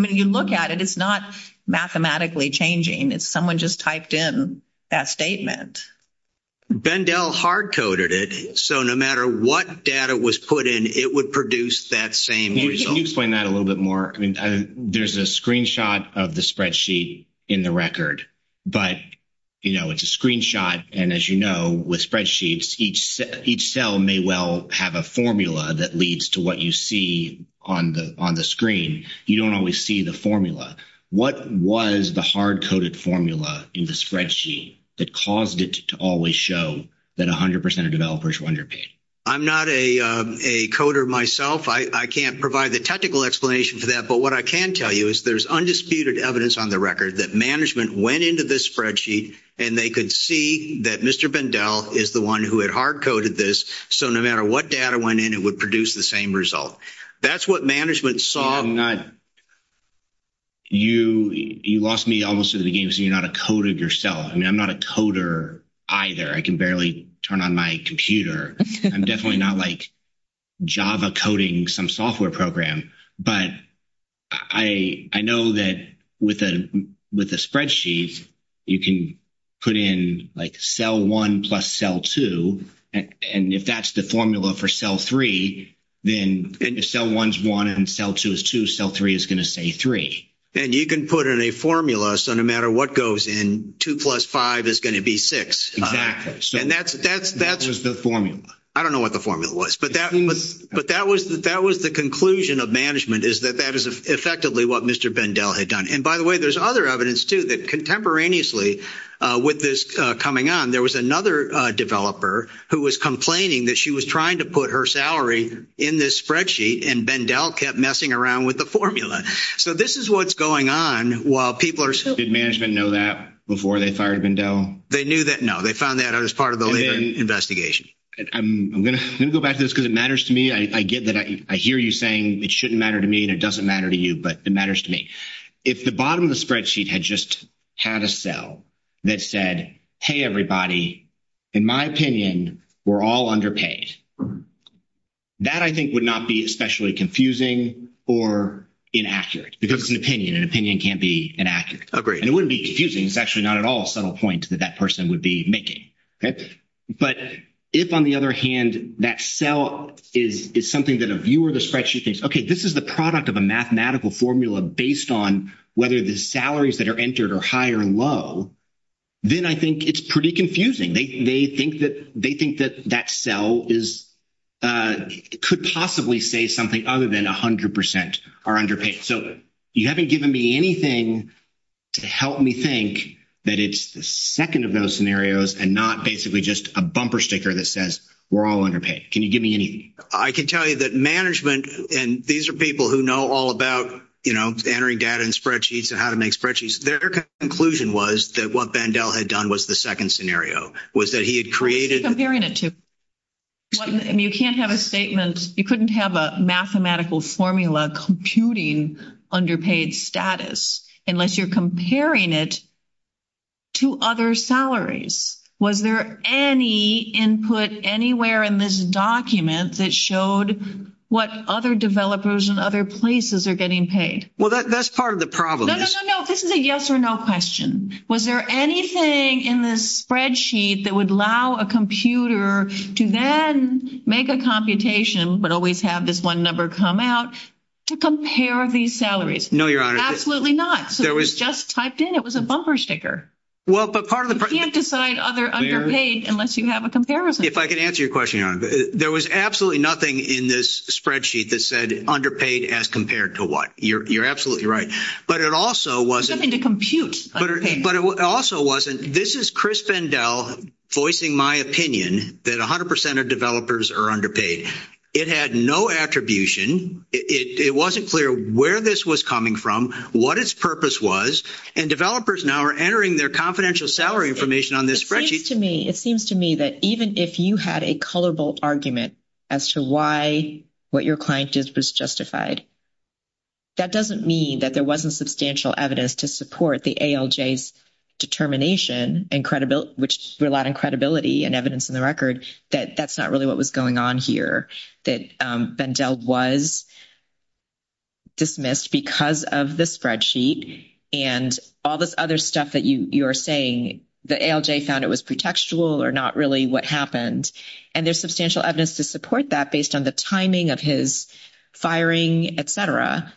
You look at it, it's not mathematically changing. Someone just typed in that statement. Bendell hard coded it. So no matter what data was put in, it would produce that same result. Can you explain that a little bit more? There's a screenshot of the spreadsheet in the record. But it's a screenshot. And as you know, with spreadsheets, each cell may well have a formula that leads to what you see on the screen. You don't always see the formula. What was the hard coded formula in the spreadsheet that caused it to always show that 100% of developers were underpaid? I'm not a coder myself. I can't provide a technical explanation for that. But what I can tell you is there's undisputed evidence on the record that management went into this spreadsheet and they could see that Mr. Bendell is the one who had hard coded this. So no matter what data went in, it would produce the same result. That's what management saw. You lost me almost to the game because you're not a coder yourself. I'm not a coder either. I can barely turn on my computer. I'm definitely not Java coding some software program. But I know that with a spreadsheet, you can put in cell 1 plus cell 2. And if that's the formula for cell 3, then if cell 1 is 1 and cell 2 is 2, cell 3 is going to say 3. And you can put in a formula so no matter what goes in, 2 plus 5 is going to be 6. I don't know what the formula was. But that was the conclusion of management is that that is effectively what Mr. Bendell had done. And by the way, there's other evidence too that contemporaneously with this coming on, there was another developer who was complaining that she was trying to put her salary in this spreadsheet and Bendell kept messing around with the formula. So this is what's going on while people are still... Did management know that before they fired Bendell? No, they found that as part of an investigation. I'm going to go back to this because it matters to me. I hear you saying it shouldn't matter to me and it doesn't matter to you, but it matters to me. If the bottom of the spreadsheet had just had a cell that said, hey everybody, in my opinion, we're all underpaid. That I think would not be especially confusing or inaccurate because it's an opinion and an opinion can't be inaccurate. It wouldn't be confusing, it's actually not at all a subtle point that that person would be making. But if on the other hand that cell is something that a viewer of the spreadsheet thinks, okay, this is the product of a mathematical formula based on whether the salaries that are entered are high or low, then I think it's pretty confusing. They think that that cell could possibly say something other than 100% are underpaid. So you haven't given me anything to help me think that it's the second of those scenarios and not basically just a bumper sticker that says we're all underpaid. Can you give me any? I can tell you that management, and these are people who know all about entering data in spreadsheets and how to make spreadsheets. Their conclusion was that what Vandell had done was the second scenario. You couldn't have a mathematical formula computing underpaid status unless you're comparing it to other salaries. Was there any input anywhere in this document that showed what other developers in other places are getting paid? Well, that's part of the problem. No, no, no. This is a yes or no question. Was there anything in this spreadsheet that would allow a computer to then make a computation but always have this one number come out to compare these salaries? No, Your Honor. Absolutely not. It was just typed in. It was a bumper sticker. You can't decide other underpaid unless you have a comparison. There was absolutely nothing in this spreadsheet that said underpaid as compared to what. You're absolutely right. This is Chris Vandell voicing my opinion that 100% of developers are underpaid. It had no attribution. It wasn't clear where this was coming from, what its purpose was, and developers now are entering their confidential salary information on this spreadsheet. It seems to me that even if you had a colorbolt argument as to why what your client did was justified, that doesn't mean that there wasn't substantial evidence to support the ALJ's determination which relied on credibility and evidence in the record that that's not really what was going on here, that Vandell was dismissed because of the spreadsheet and all this other stuff that you're saying the ALJ found it was pretextual or not really what happened. There's substantial evidence to support that based on the timing of his firing, etc.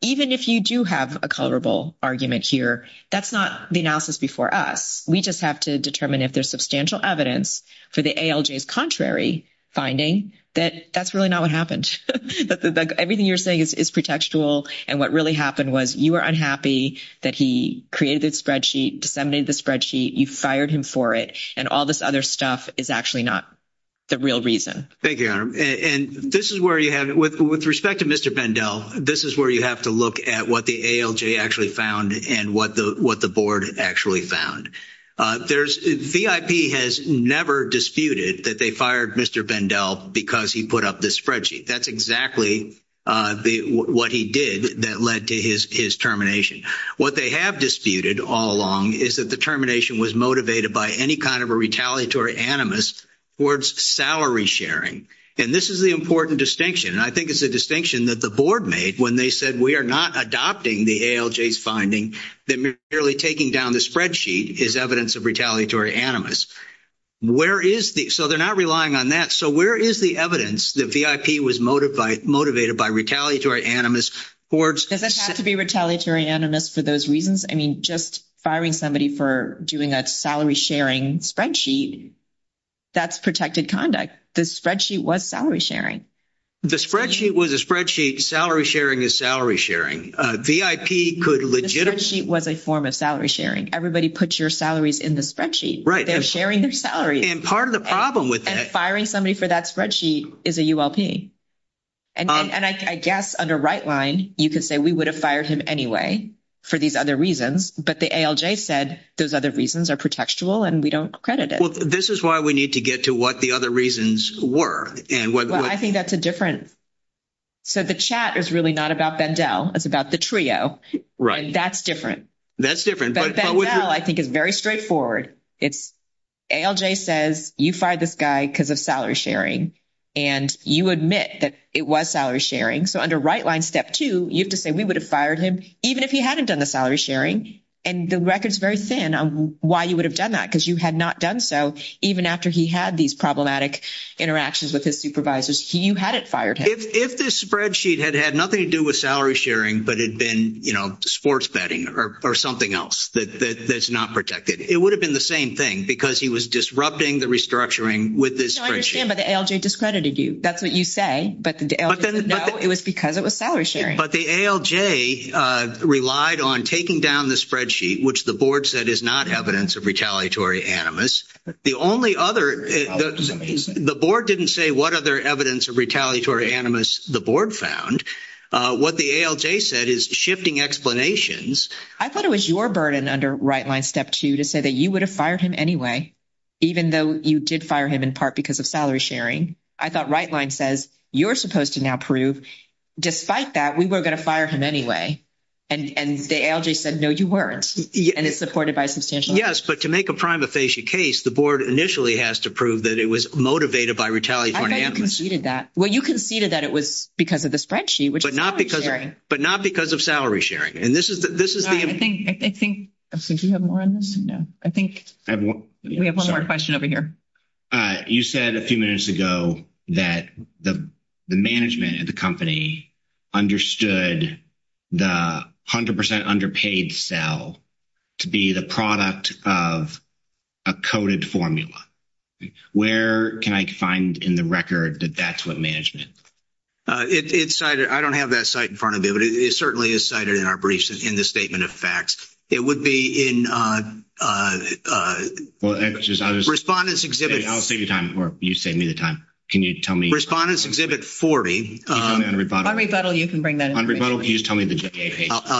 Even if you do have a colorbolt argument here, that's not the analysis before us. We just have to determine if there's substantial evidence for the ALJ's contrary finding that that's really not what happened. Everything you're saying is pretextual and what really happened was you were unhappy that he created the spreadsheet, disseminated the spreadsheet, you fired him for it, and all this other stuff is actually not the real reason. Thank you, Anna. With respect to Mr. Vandell, this is where you have to look at what the ALJ actually found and what the board actually found. VIP has never disputed that they fired Mr. Vandell because he put up this spreadsheet. That's exactly what he did that led to his termination. What they have disputed all along is that the termination was motivated by any kind of a retaliatory animus towards salary sharing. This is the important distinction. I think it's a distinction that the board made when they said we are not adopting the ALJ's finding that merely taking down the spreadsheet is evidence of retaliatory animus. They're not relying on that. Where is the evidence that VIP was motivated by retaliatory animus? Does it have to be retaliatory animus for those reasons? Just firing somebody for doing a salary sharing spreadsheet, that's protected conduct. The spreadsheet was salary sharing. The spreadsheet was a spreadsheet. Salary sharing is salary sharing. The spreadsheet was a form of salary sharing. Everybody puts your salaries in the spreadsheet. They're sharing their salaries. Firing somebody for that spreadsheet is a ULP. I guess under right line, you could say we would have fired him anyway for these other reasons, but the ALJ said those other reasons are protectable and we don't credit it. This is why we need to get to what the other reasons were. I think that's a difference. The chat is really not about Vandel. It's about the trio. That's different. Vandel, I think, is very straightforward. ALJ says you fired this guy because of salary sharing and you admit that it was salary sharing. Under right line step two, you have to say we would have fired him even if he hadn't done the salary sharing. The record is very thin on why you would have done that because you had not done so even after he had these problematic interactions with his supervisors. You hadn't fired him. If this spreadsheet had had nothing to do with salary sharing but it had been sports betting or something else that's not protected, it would have been the same thing because he was disrupting the restructuring with this spreadsheet. I understand that the ALJ discredited you. That's what you say, but it was because it was salary sharing. The ALJ relied on taking down the spreadsheet which the board said is not evidence of retaliatory animus. The board didn't say what other evidence of retaliatory animus the board found. What the ALJ said is shifting explanations. I thought it was your burden under right line step two to say that you would have fired him anyway even though you did fire him in part because of salary sharing. I thought right line says you're supposed to now prove despite that we were going to fire him anyway. The ALJ said no you weren't. To make a prima facie case the board initially has to prove that it was motivated by retaliatory animus. You conceded that it was because of the spreadsheet. But not because of salary sharing. I think we have one more question over here. You said a few minutes ago that the management of the company understood the 100% underpaid sale to be the product of a coded formula. Where can I find in the record that that's what management? I don't have that site in front of me but it certainly is cited in our briefs in the statement of facts. It would be in respondent's exhibit 40. On rebuttal you can bring that in. I'll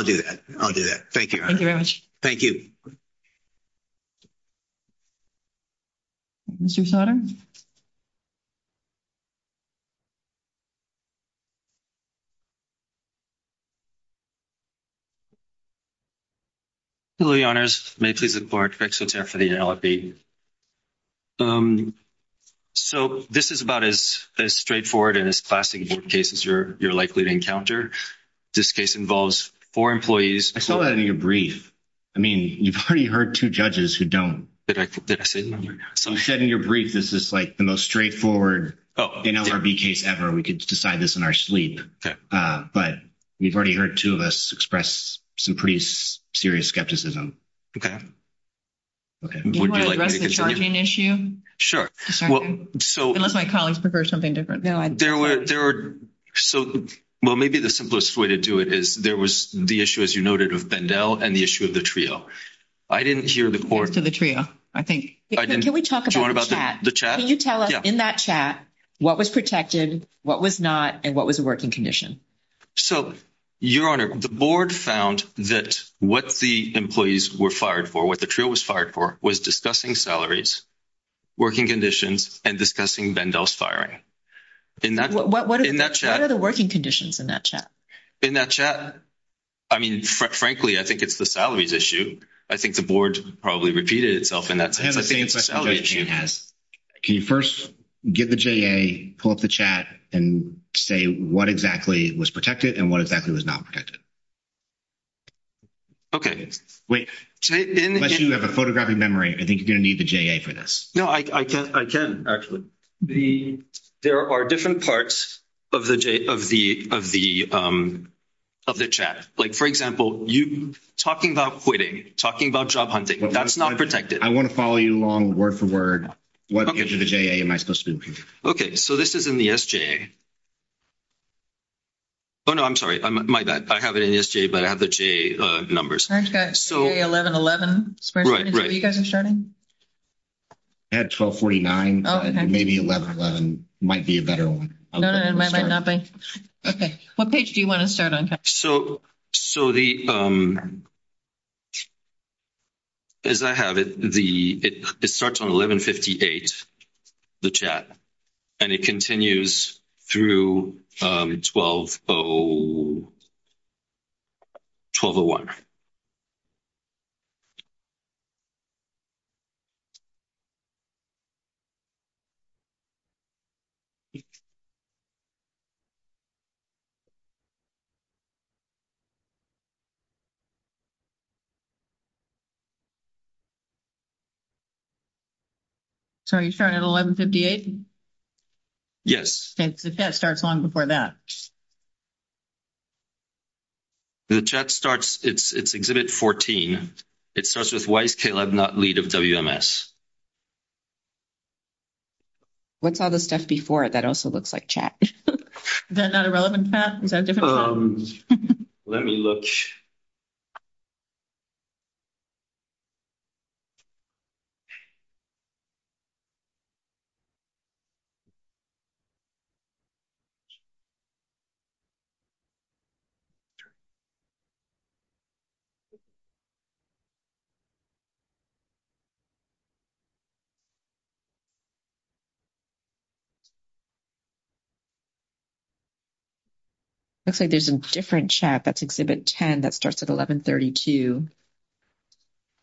do that. Thank you very much. Thank you. Thank you. Mr. Sutter? Hello your honors. This is about as straightforward as classic cases you're likely to encounter. This case involves four employees. I saw that in your brief. You've already heard two judges who don't. You said in your brief this is the most straightforward NLRB case ever. We could decide this in our sleep. You've already heard two of us express serious skepticism. Do you want to address the charging issue? Sure. Unless my colleagues prefer something different. Maybe the simplest way to do it is there was the issue as you noted of Bendel and the issue of the trio. I didn't hear the court. Can you tell us in that chat what was protected, what was not, and what was a working condition? Your honor, the board found that what the employees were fired for was discussing salaries, working conditions, and discussing Bendel's firing. What are the working conditions in that chat? In that chat? Frankly, I think it's the salaries issue. I think the board probably repeated itself in that chat. Can you first give the JA, pull up the chat, and say what exactly was protected and what exactly was not protected? Okay. Unless you have a photographic memory, I think you're going to need the JA for this. I can, actually. There are different parts of the chat. For example, talking about quitting, talking about job hunting, that's not protected. I want to follow you along word for word. What gives you the JA? This is in the SJA. Oh, no. I'm sorry. I have it in the SJA, but I have the JA numbers. I've got 1111. I have 1249. Maybe 1111 might be a better one. No, no. It might not be. What page do you want to start on? As I have it, it starts on 1158, the chat, and it continues through 1201. So you start at 1158? Yes. The chat starts long before that. The chat starts, it's Exhibit 14. It starts with, Why is Caleb not lead of WMS? What's all the stuff before it? That also looks like chat. Is that not a relevant fact? Let me look. It looks like there's a different chat. That's Exhibit 10. That starts at 1132.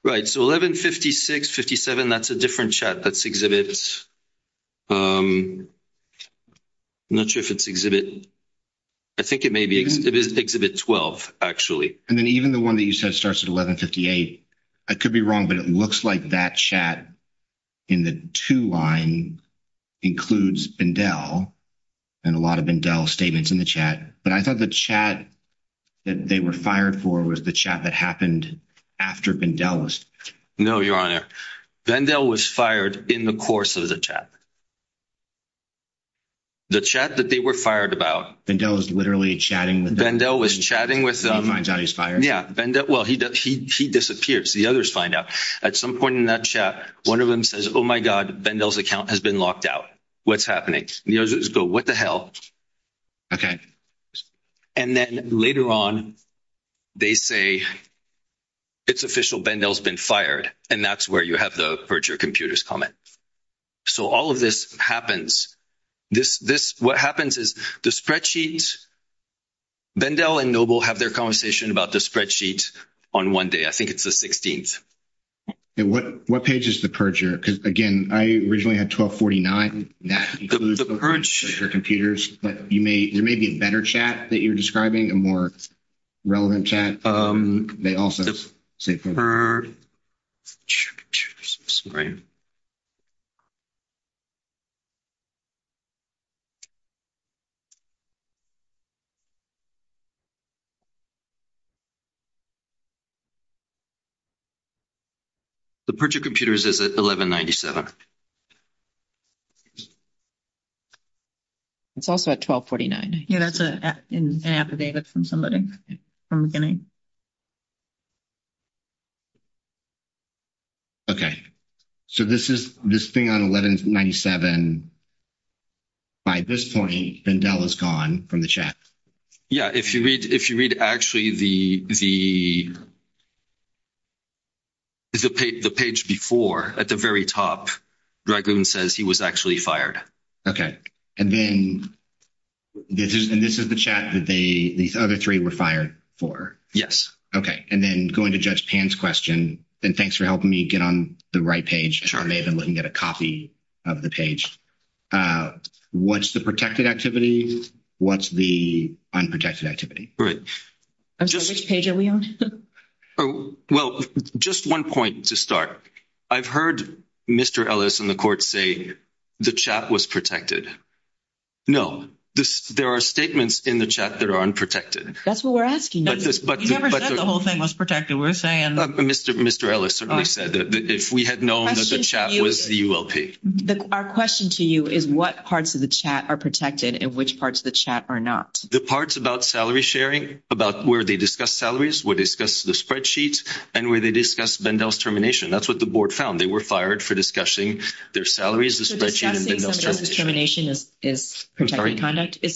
Right. So 1156, 57, that's a different chat. That's Exhibit 10. I'm not sure if it's Exhibit... I think it may be Exhibit 12, actually. And then even the one that you said starts at 1158. I could be wrong, but it looks like that chat in the two lines includes Bendel, and a lot of Bendel statements in the chat. But I thought the chat that they were fired for was the chat that happened after Bendel's. No, Your Honor. Bendel was fired in the course of the chat. The chat that they were fired about... Bendel was literally chatting with them. Yeah. Well, he disappears. The others find out. At some point in that chat, one of them says, Oh, my God, Bendel's account has been locked out. What's happening? And the others go, What the hell? And then later on, they say, It's official. Bendel's been fired. And that's where you have the perjure computers comment. So all of this happens. What happens is the spreadsheets... Bendel and Noble have their conversation about the spreadsheets on one day. I think it's the 16th. What page is the perjure? Because, again, I originally had 1249. That's because of the perjure computers. There may be a better chat that you're describing, a more relevant chat. They also... The perjure computers is at 1197. It's also at 1249. Yeah, that's an affidavit from somebody from beginning. Okay. So this thing on 1197, by this point, Bendel is gone from the chat. Yeah, if you read, actually, the page before, at the very top, Dragoon says he was actually fired. Okay. And this is the chat that these other three were fired for? Yes. Okay. And then going to Judge Pan's question, and thanks for helping me get on the right page. I may have been looking at a copy of the page. What's the protected activity? What's the unprotected activity? Well, just one point to start. I've heard Mr. Ellis in the court say the chat was protected. No. There are statements in the chat that are unprotected. That's what we're asking. Mr. Ellis certainly said that if we had known that the chat was the ULP. Our question to you is what parts of the chat are protected and which parts of the chat are not. The parts about salary sharing, about where they discuss salaries, where they discuss the spreadsheets, and where they discuss Bendel's termination. That's what the board found. They were fired for discussing their salaries, the spreadsheet, and Bendel's termination.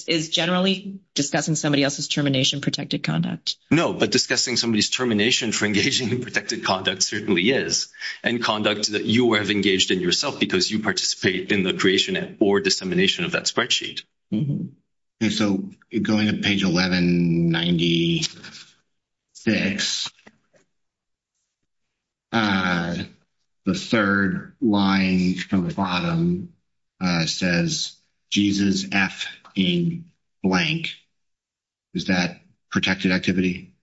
Is generally discussing somebody else's termination protected conduct? No, but discussing somebody's termination for engaging in protected conduct certainly is. And conduct that you have engaged in yourself because you participate in the creation or dissemination of that spreadsheet. So going to page 1196, the third line from the bottom says Jesus F in blank. Is that protected activity?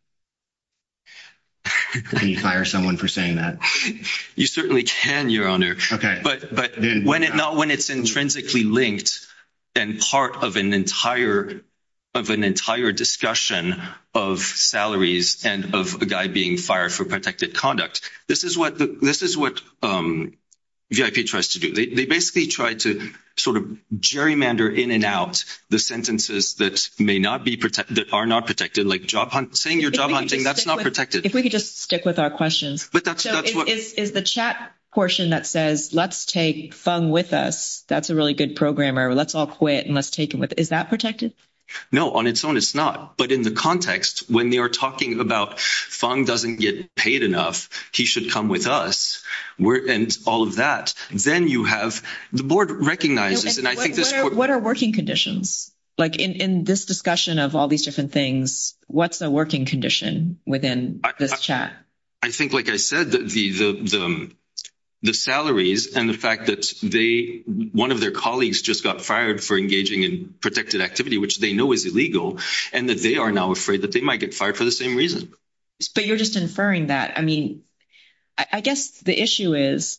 Can you fire someone for saying that? You certainly can, Your Honor. But not when it's intrinsically linked and part of an entire discussion of salaries and of a guy being fired for protected conduct. This is what VIP tries to do. They basically try to sort of gerrymander in and out the sentences that are not protected like saying you're job hunting. That's not protected. If we could just stick with our question. Is the chat portion that says let's take Fung with us. That's a really good programmer. Let's all quit and let's take him with us. Is that protected? No, on its own it's not. But in the context when they are talking about Fung doesn't get paid enough he should come with us. The board recognizes. What are working conditions? In this discussion of all these different things what's the working condition within this chat? I think like I said the salaries and the fact that one of their colleagues just got fired for engaging in protected activity which they know is illegal and that they are now afraid that they might get fired for the same reason. But you're just inferring that. I guess the issue is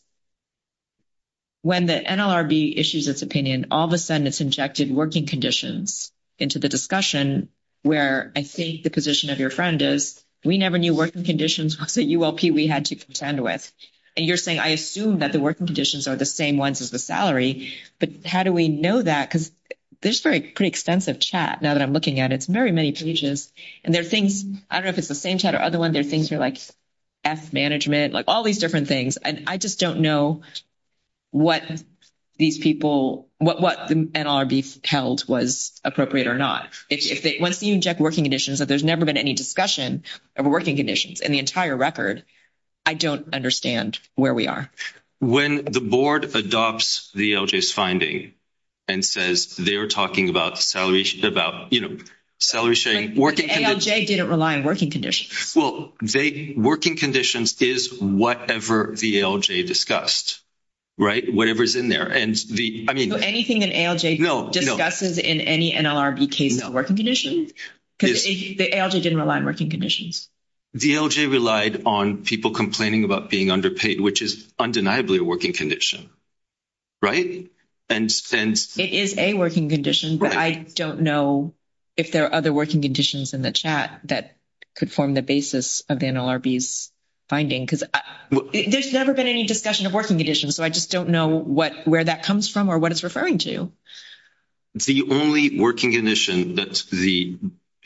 when the NLRB issues this opinion all of a sudden it's injected working conditions into the discussion where I think the position of your friend is we never knew working conditions of the ULP we had to contend with. And you're saying I assume that the working conditions are the same ones as the salary. But how do we know that? This is a pretty extensive chat that I'm looking at. I don't know if it's the same chat or other ones and things are like F management all these different things and I just don't know what the NLRB held was appropriate or not. Once you inject working conditions if there's never been any discussion of working conditions in the entire record I don't understand where we are. When the board adopts the LJ's finding and says they're talking about salary sharing ALJ didn't rely on working conditions. Working conditions is whatever the ALJ discussed. Whatever is in there. So anything that ALJ discusses in any NLRB came about working conditions? The ALJ didn't rely on working conditions. The ALJ relied on people complaining about being underpaid which is undeniably a working condition. Right? It is a working condition but I don't know if there are other working conditions in the chat that could form the basis of NLRB's finding. There's never been any discussion of working conditions so I just don't know where that comes from or what it's referring to. The only working condition that the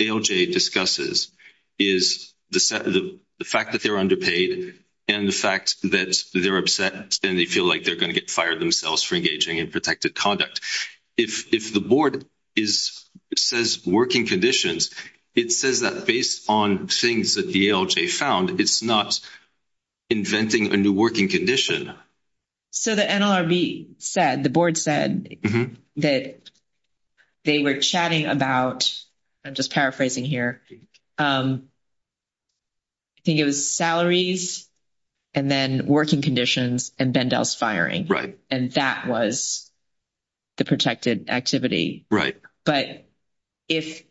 ALJ discusses is the fact that they're underpaid and the fact that they're upset and they feel like they're going to get fired themselves for engaging in protected conduct. If the board says working conditions it says that based on things that the ALJ found it's not inventing a new working condition. So the NLRB said, the board said that they were chatting about I'm just paraphrasing here I think it was salaries and then working conditions and Bendell's firing. And that was the protected activity. But if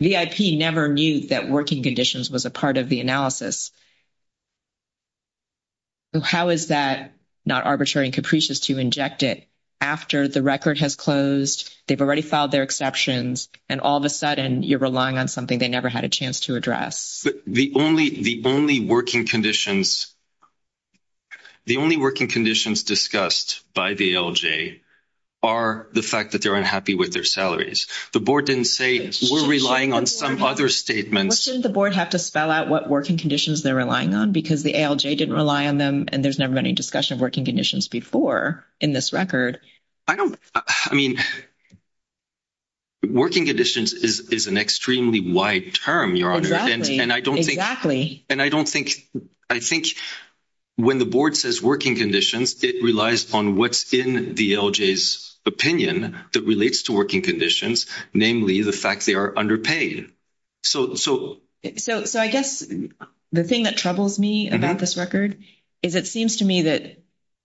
VIP never knew that working conditions was a part of the analysis how is that not arbitrary and capricious to inject it after the record has closed they've already filed their exceptions and all of a sudden you're relying on something they never had a chance to address. The only working conditions discussed by the ALJ are the fact that they're unhappy with their salaries. The board didn't say we're relying on some other statements. Shouldn't the board have to spell out what working conditions they're relying on because the ALJ didn't rely on them and there's never been any discussion of working conditions before in this record. Working conditions is an extremely wide term. Exactly. And I don't think when the board says working conditions it relies on what's in the ALJ's opinion that relates to working conditions namely the fact they are underpaid. So I guess the thing that troubles me about this record is it seems to me that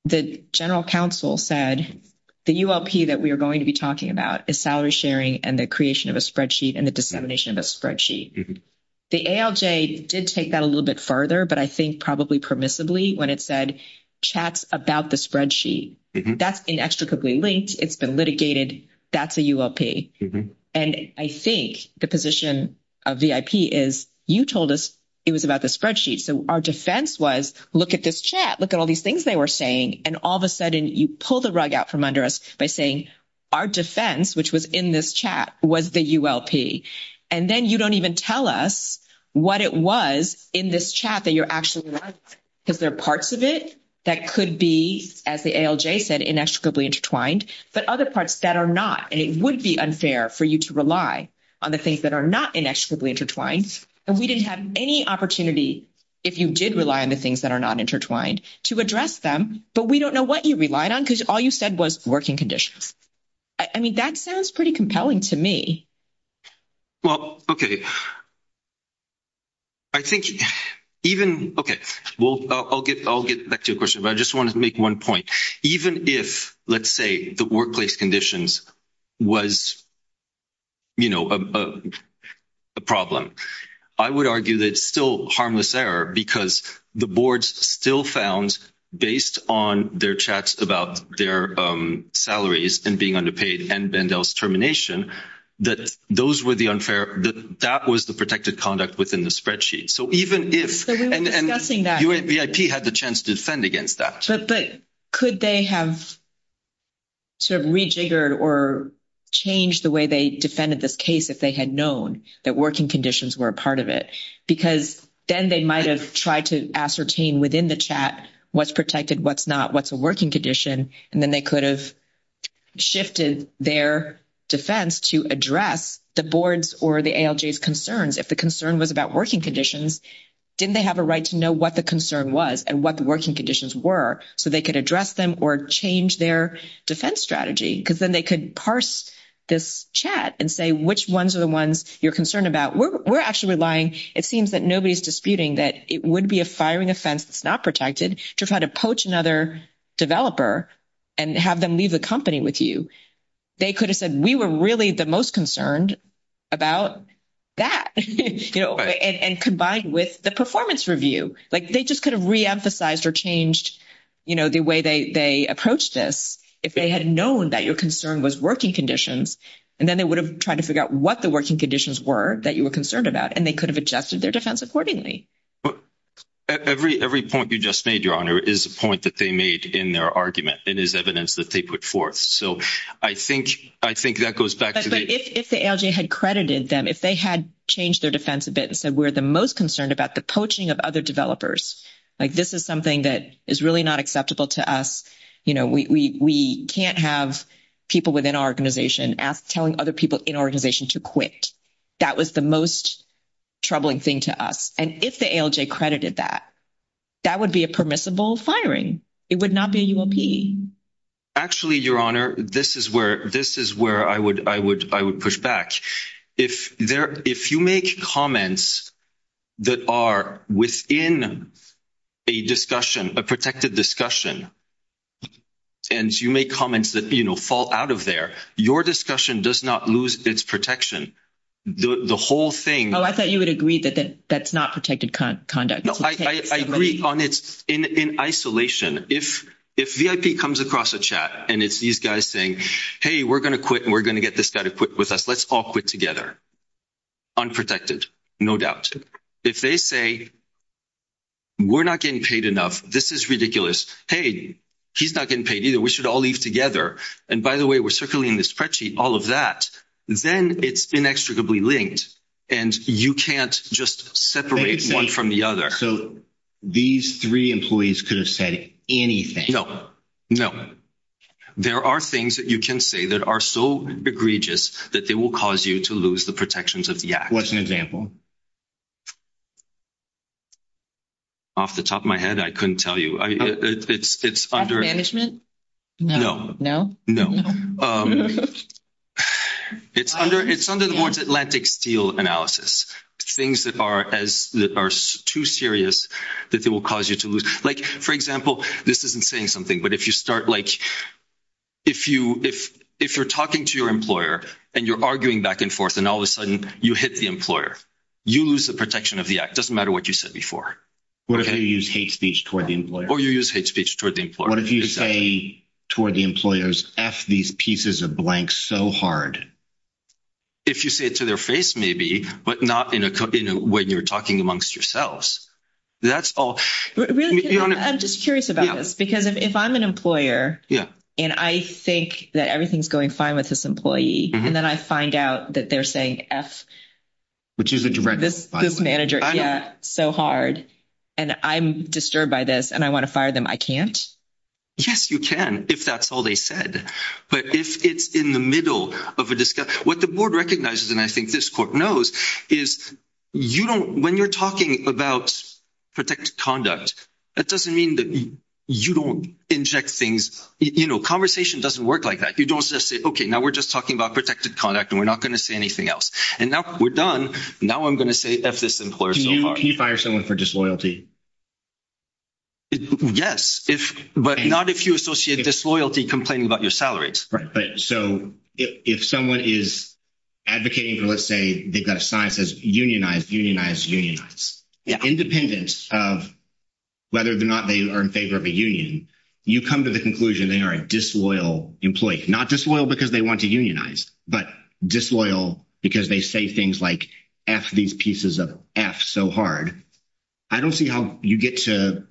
the general counsel said the ULP that we are going to be talking about is salary sharing and the creation of a spreadsheet and the dissemination of a spreadsheet. The ALJ did take that a little bit further but I think probably permissibly when it said chats about the spreadsheet that's been extricably linked, it's been litigated that's the ULP. And I think the position of VIP is you told us it was about the spreadsheet so our defense was look at this chat, look at all these things they were saying and all of a sudden you pull the rug out from under us by saying our defense which was in this chat was the ULP and then you don't even tell us what it was in this chat that you're actually relying on because there are parts of it that could be as the ALJ said inextricably intertwined but other parts that are not and it would be unfair for you to rely on the things that are not inextricably intertwined and we didn't have any opportunity if you did rely on the things that are not intertwined to address them but we don't know what you relied on because all you said was working conditions. I mean that sounds pretty compelling to me. Well okay I think even okay I'll get back to your question but I just want to make one point even if let's say the workplace conditions was a problem I would argue that it's still harmless error because the boards still found based on their chats about their salaries and being underpaid and Bendel's termination that that was the protected conduct within the spreadsheet so even if UABIP had the chance to defend against that Could they have rejiggered or changed the way they defended this case if they had known that working conditions were a part of it because then they might have tried to ascertain within the chat what's protected what's not what's a working condition and then they could have shifted their defense to address the boards or the ALJ's concerns if the concern was about working conditions didn't they have a right to know what the concern was and what the working conditions were so they could address them or change their defense strategy because then they could parse this chat and say which ones are the ones you're concerned about we're actually relying it seems that nobody's disputing that it would be a firing offense that's not protected to try to poach another developer and have them leave the company with you they could have said we were really the most concerned about that and combined with the performance review like they just could have re-emphasized or changed the way they approached this if they had known that your concern was working conditions and then they would have tried to figure out what the working conditions were that you were concerned about and they could have adjusted their defense accordingly every point you just made your honor is a point that they made in their argument it is evidence that they put forth so I think that goes back to the if the ALJ had credited them if they had changed their defense a bit and said we're the most concerned about the poaching of other developers like this is something that is really not acceptable to us you know we can't have people within our organization telling other people in our organization to quit that was the most troubling thing to us and if the ALJ credited that that would be a permissible firing it would not be a UOP actually your honor this is where I would push back if you make comments that are within a discussion a protected discussion and you make comments that fall out of there your discussion does not lose its protection the whole thing I thought you would agree that's not protected conduct in isolation if VIP comes across a chat and it's these guys saying hey we're going to quit and we're going to get this guy to quit with us let's all quit together unprotected no doubt if they say we're not getting paid enough this is ridiculous hey he's not getting paid either we should all leave together and by the way we're circling the spreadsheet all of that then it's inextricably linked and you can't just separate one from the other so these three employees could have said anything no there are things that you can say that are so egregious that they will cause you to lose the protections of the act what's an example off the top of my head I couldn't tell you management no no it's under the Atlantic steel analysis things that are too serious that they will cause you to lose like for example this isn't saying something but if you start if you're talking to your employer and you're arguing back and forth and all of a sudden you hit the employer you lose the protection of the act doesn't matter what you said before what if you use hate speech toward the employer what if you say toward the employers F these pieces of blanks so hard if you say it to their face maybe but not when you're talking amongst yourselves that's all I'm just curious about this because if I'm an employer and I think that everything's going fine with this employee and then I find out that they're saying F which is what you read so hard and I'm disturbed by this and I want to fire them I can't yes you can if that's all they said but if it's in the middle of a discussion what the board recognizes and I think this court knows is you don't when you're talking about protected conduct that doesn't mean that you don't inject things you know conversation doesn't work like that you don't just say okay now we're just talking about protected conduct and we're not going to say anything else and now we're done now I'm going to say F this employer so hard can you fire someone for disloyalty yes but not if you associate disloyalty complaining about your salaries so if someone is advocating for let's say unionize, unionize, unionize independence of whether or not they are in favor of a union you come to the conclusion they are a disloyal employee not disloyal because they want to unionize but disloyal because they say things like F these pieces of F so hard I don't see how you get to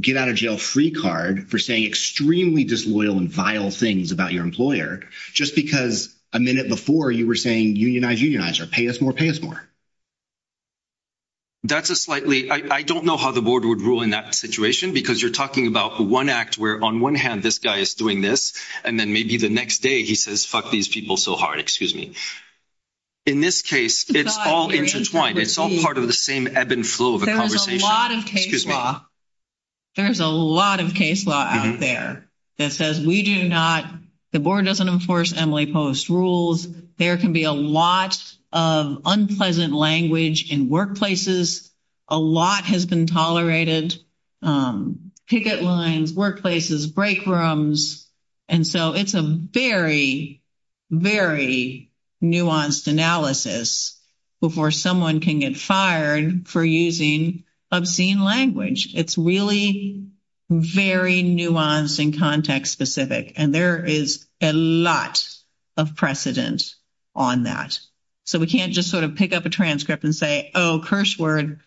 get out of jail free card for saying extremely disloyal and vile things about your employer just because a minute before you were saying unionize, unionize, pay us more, pay us more that's a slightly I don't know how the board would rule in that situation because you're talking about the one act where on one hand this guy is doing this and then maybe the next day he says F these people so hard excuse me in this case it's all intertwined it's all part of the same ebb and flow of a conversation there's a lot of case law out there that says we do not the board doesn't enforce Emily Post rules there can be a lot of unpleasant language in workplaces a lot has been tolerated picket lines, workplaces break rooms and so it's a very very nuanced analysis before someone can get fired for using obscene language it's really very nuanced and context specific and there is a lot of precedence on that so we can't just sort of pick up a transcript and say oh curse word,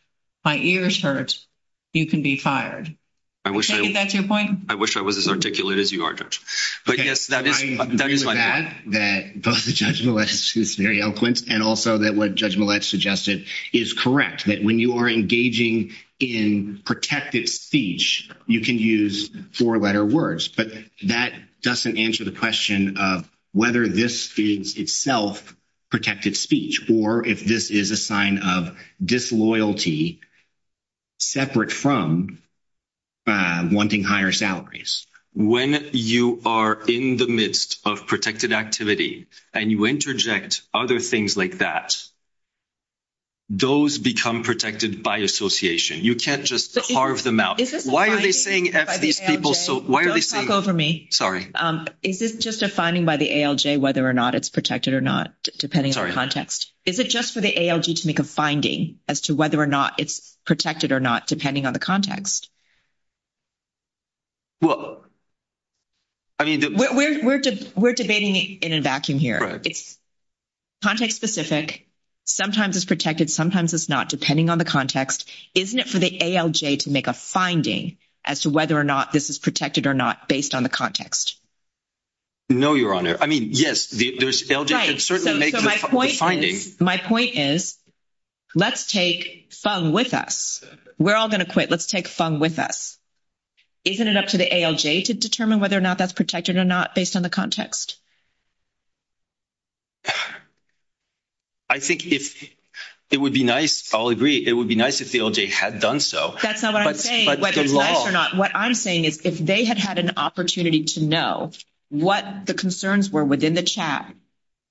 my ears hurt you can be fired, is that your point? I wish I was as articulate as you are Judge I agree with that that both Judge Millett and also what Judge Millett suggested is correct that when you are engaging in protected speech you can use four letter words but that doesn't answer the question of whether this speaks itself of protected speech or if this is a sign of disloyalty separate from wanting higher salaries when you are in the midst of protected activity and you interject other things like that those become protected by association you can't just carve them out don't talk over me is this just a finding by the ALJ whether or not it's protected or not is it just for the ALJ to make a finding as to whether or not it's protected or not depending on the context we're debating in a vacuum here it's context specific sometimes it's protected, sometimes it's not depending on the context, isn't it for the ALJ to make a finding as to whether or not this is protected or not based on the context no your honor, I mean yes my point is let's take Fung with us we're all going to quit, let's take Fung with us isn't it up to the ALJ to determine whether or not that's protected or not based on the context I think it would be nice I'll agree, it would be nice if the ALJ had done so what I'm saying is if they had had an opportunity to know what the concerns were within the chat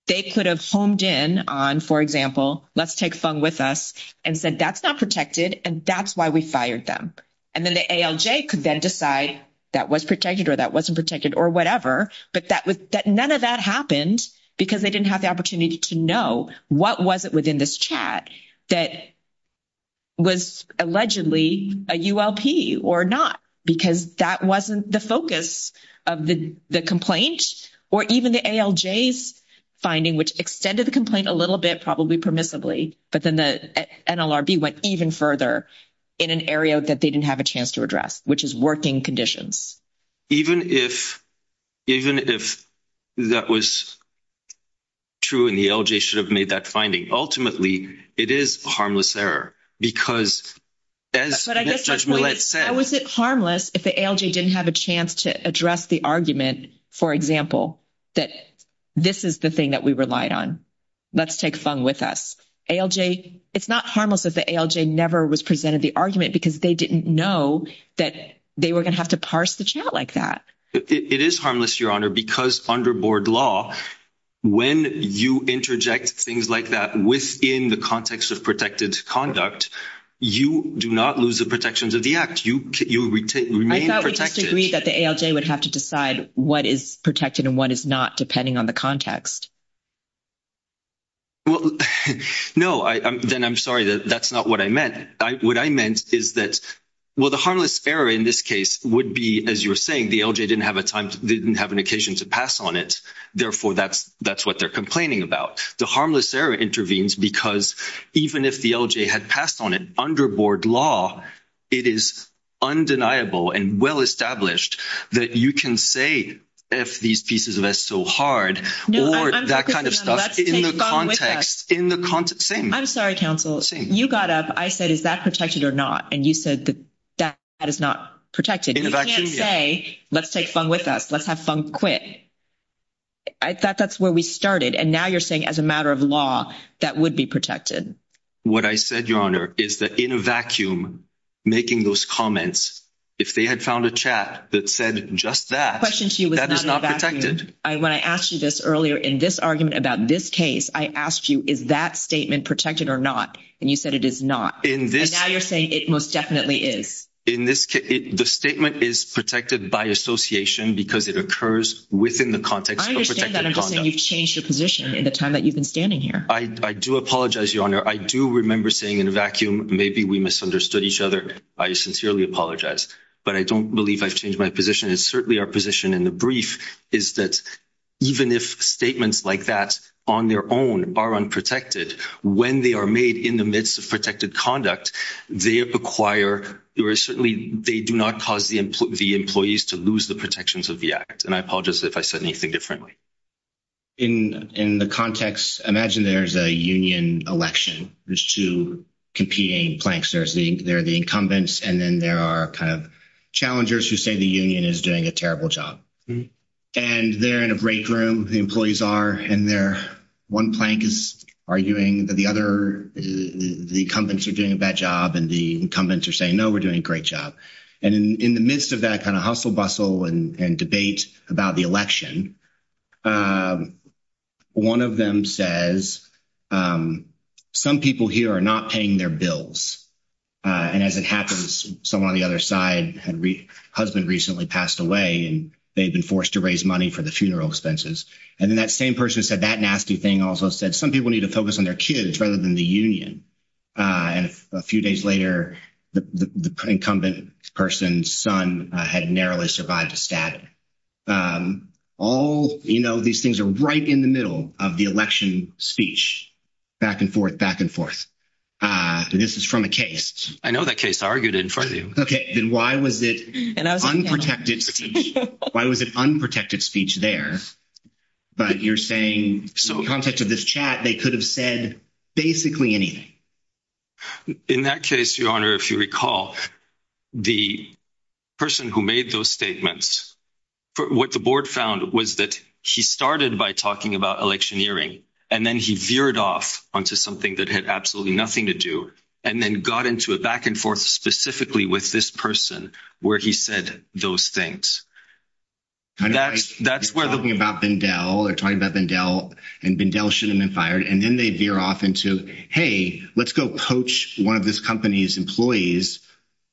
they could have honed in on, for example let's take Fung with us and said that's not protected and that's why we fired them and then the ALJ could then decide that was protected or that wasn't protected or whatever but none of that happened because they didn't have the opportunity to know what was it within this chat that was allegedly a ULP or not because that wasn't the focus of the complaint or even the ALJ's finding which extended the complaint a little bit, probably permissibly but then the NLRB went even further in an area that they didn't have a chance to address which is working conditions even if that was true and the ALJ should have made that finding ultimately it is a harmless error because as Judge Millet said but was it harmless if the ALJ didn't have a chance to address the argument, for example that this is the thing that we relied on let's take Fung with us it's not harmless if the ALJ never was presented the argument because they didn't know that they were going to have to parse the chat like that it is harmless, Your Honor, because under board law when you interject things like that within the context of protected conduct you do not lose the protections of the act I thought we just agreed that the ALJ would have to decide what is protected and what is not depending on the context No, then I'm sorry that's not what I meant what I meant is that the harmless error in this case would be as you were saying, the ALJ didn't have an occasion to pass on it therefore that's what they're complaining about the harmless error intervenes because even if the ALJ had passed on it under board law it is undeniable and well established that you can say, F these pieces of S so hard or that kind of stuff in the context I'm sorry, counsel, you got up, I said is that protected or not and you said that is not protected you can't say let's take Fung with us, let's have Fung quit I thought that's where we started and now you're saying as a matter of law that would be protected what I said, Your Honor, is that in a vacuum making those comments, if they had found a chat that said just that, that is not protected when I asked you this earlier, in this argument about this case I asked you is that statement protected or not and you said it is not, but now you're saying it most definitely is the statement is protected by association because it occurs within the context of protected conduct I do apologize, Your Honor I do remember saying in a vacuum, maybe we misunderstood each other I sincerely apologize but I don't believe I've changed my position, it's certainly our position in the brief is that even if statements like that on their own are unprotected when they are made in the midst of protected conduct they do not cause the employees to lose the protections of the act and I apologize if I said anything differently in the context imagine there's a union election there's two competing planks, there's the incumbents and then there are challengers who say the union is doing a terrible job and they're in a break room the employees are in there one plank is arguing that the other the incumbents are doing a bad job and the incumbents are saying no, we're doing a great job and in the midst of that kind of hustle bustle and debate about the election one of them says some people here are not paying their bills and as it happens someone on the other side's husband recently passed away and they've been forced to raise money for the funeral expenses and then that same person who said that nasty thing also said some people need to focus on their kids rather than the union and a few days later the incumbent person's son had narrowly survived a stabbing these things are right in the middle of the election speech back and forth this is from a case I know that case argued in front of you why was it unprotected speech there but you're saying in the context of this chat they could have said basically anything in that case if you recall the person who made those statements what the board found was that he started by talking about electioneering and then he veered off onto something that had absolutely nothing to do and then got into a back and forth specifically with this person where he said those things that's where they're talking about Bindel and Bindel shouldn't have been fired and then they veer off into hey, let's go coach one of this company's employees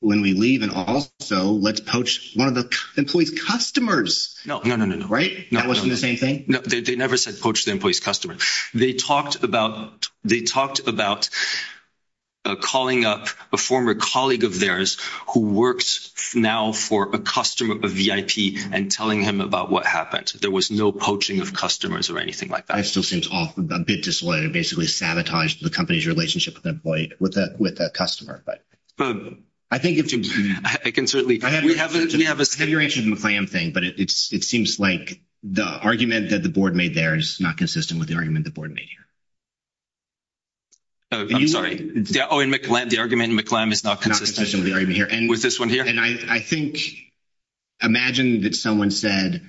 when we leave and also let's coach one of the employees' customers no, no, no, no they never said coach the employees' customers they talked about calling up a former colleague of theirs who works now for a customer of the VIP and telling him about what happened there was no poaching of customers or anything like that I still seem a bit disillusioned and basically sanitized the company's relationship with that customer I can certainly we have a situation with the McClam thing but it seems like the argument that the board made there is not consistent with the argument the board made here the argument in McClam is not consistent with the argument here imagine that someone said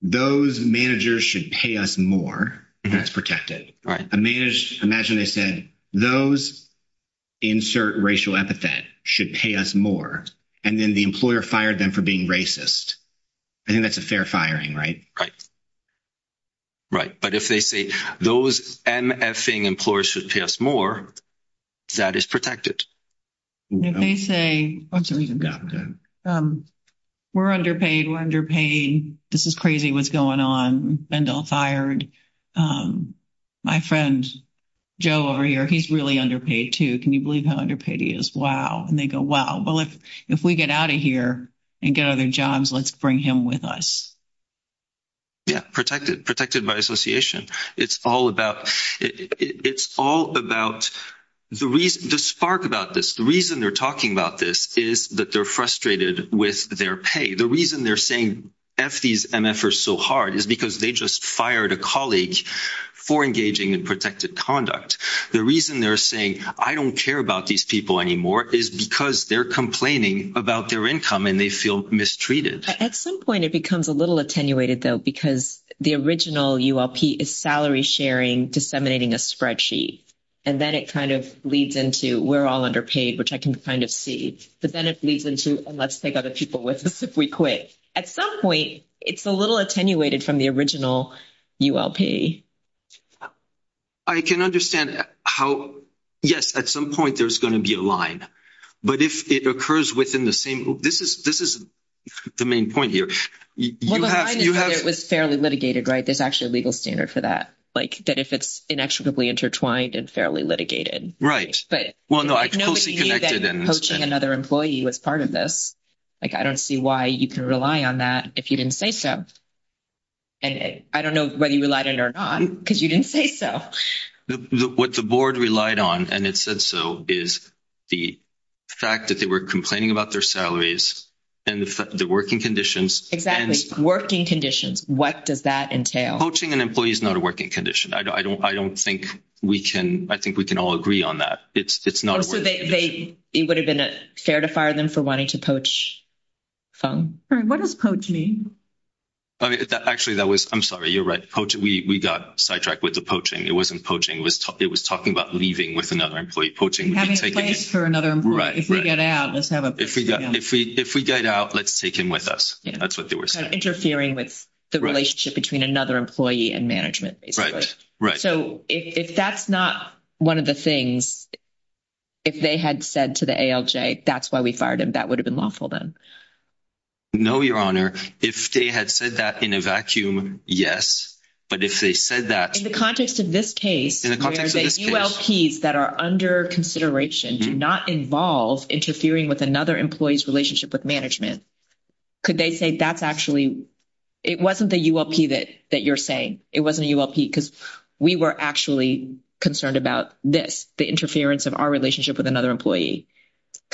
those managers should pay us more and that's protected those insert racial epithet should pay us more and then the employer fired them for being racist I think that's a fair firing right but if they say those MFing employers should pay us more that is protected if they say we're underpaid this is crazy what's going on my friend Joe over here he's really underpaid too can you believe how underpaid he is and they go wow if we get out of here and get other jobs let's bring him with us protected by association it's all about the spark about this the reason they're talking about this is that they're frustrated with their pay the reason they're saying F these MFers so hard is because they just fired a colleague for engaging in protected conduct the reason they're saying I don't care about these people anymore is because they're complaining about their income and they feel mistreated at some point it becomes a little attenuated because the original ULP is salary sharing disseminating a spreadsheet and then it leads into we're all underpaid which I can kind of see but then it leads into let's take other people with us if we quit at some point it's a little attenuated from the original ULP I can understand yes at some point there's going to be a line but if it occurs within the same this is the main point here it's fairly litigated if it's inextricably intertwined it's fairly litigated I don't see why you can rely on that if you didn't say so I don't know whether you relied on it or not because you didn't say so what the board relied on and it said so is the fact that they were complaining about their salaries and the working conditions what does that entail poaching an employee is not a working condition I think we can all agree on that it would have been fair to fire them for wanting to poach what does poach mean I'm sorry you're right we got sidetracked with the poaching it was talking about leaving with another employee if we get out let's take him with us interfering with the relationship between another employee and management if that's not one of the things if they had said to the ALJ that's why we fired him that would have been lawful no your honor if they had said that in a vacuum yes in the context of this case where the ULTs that are under consideration do not involve interfering with another employee's relationship with management it wasn't the ULP that you're saying it wasn't a ULP because we were actually concerned about this the interference of our relationship with another employee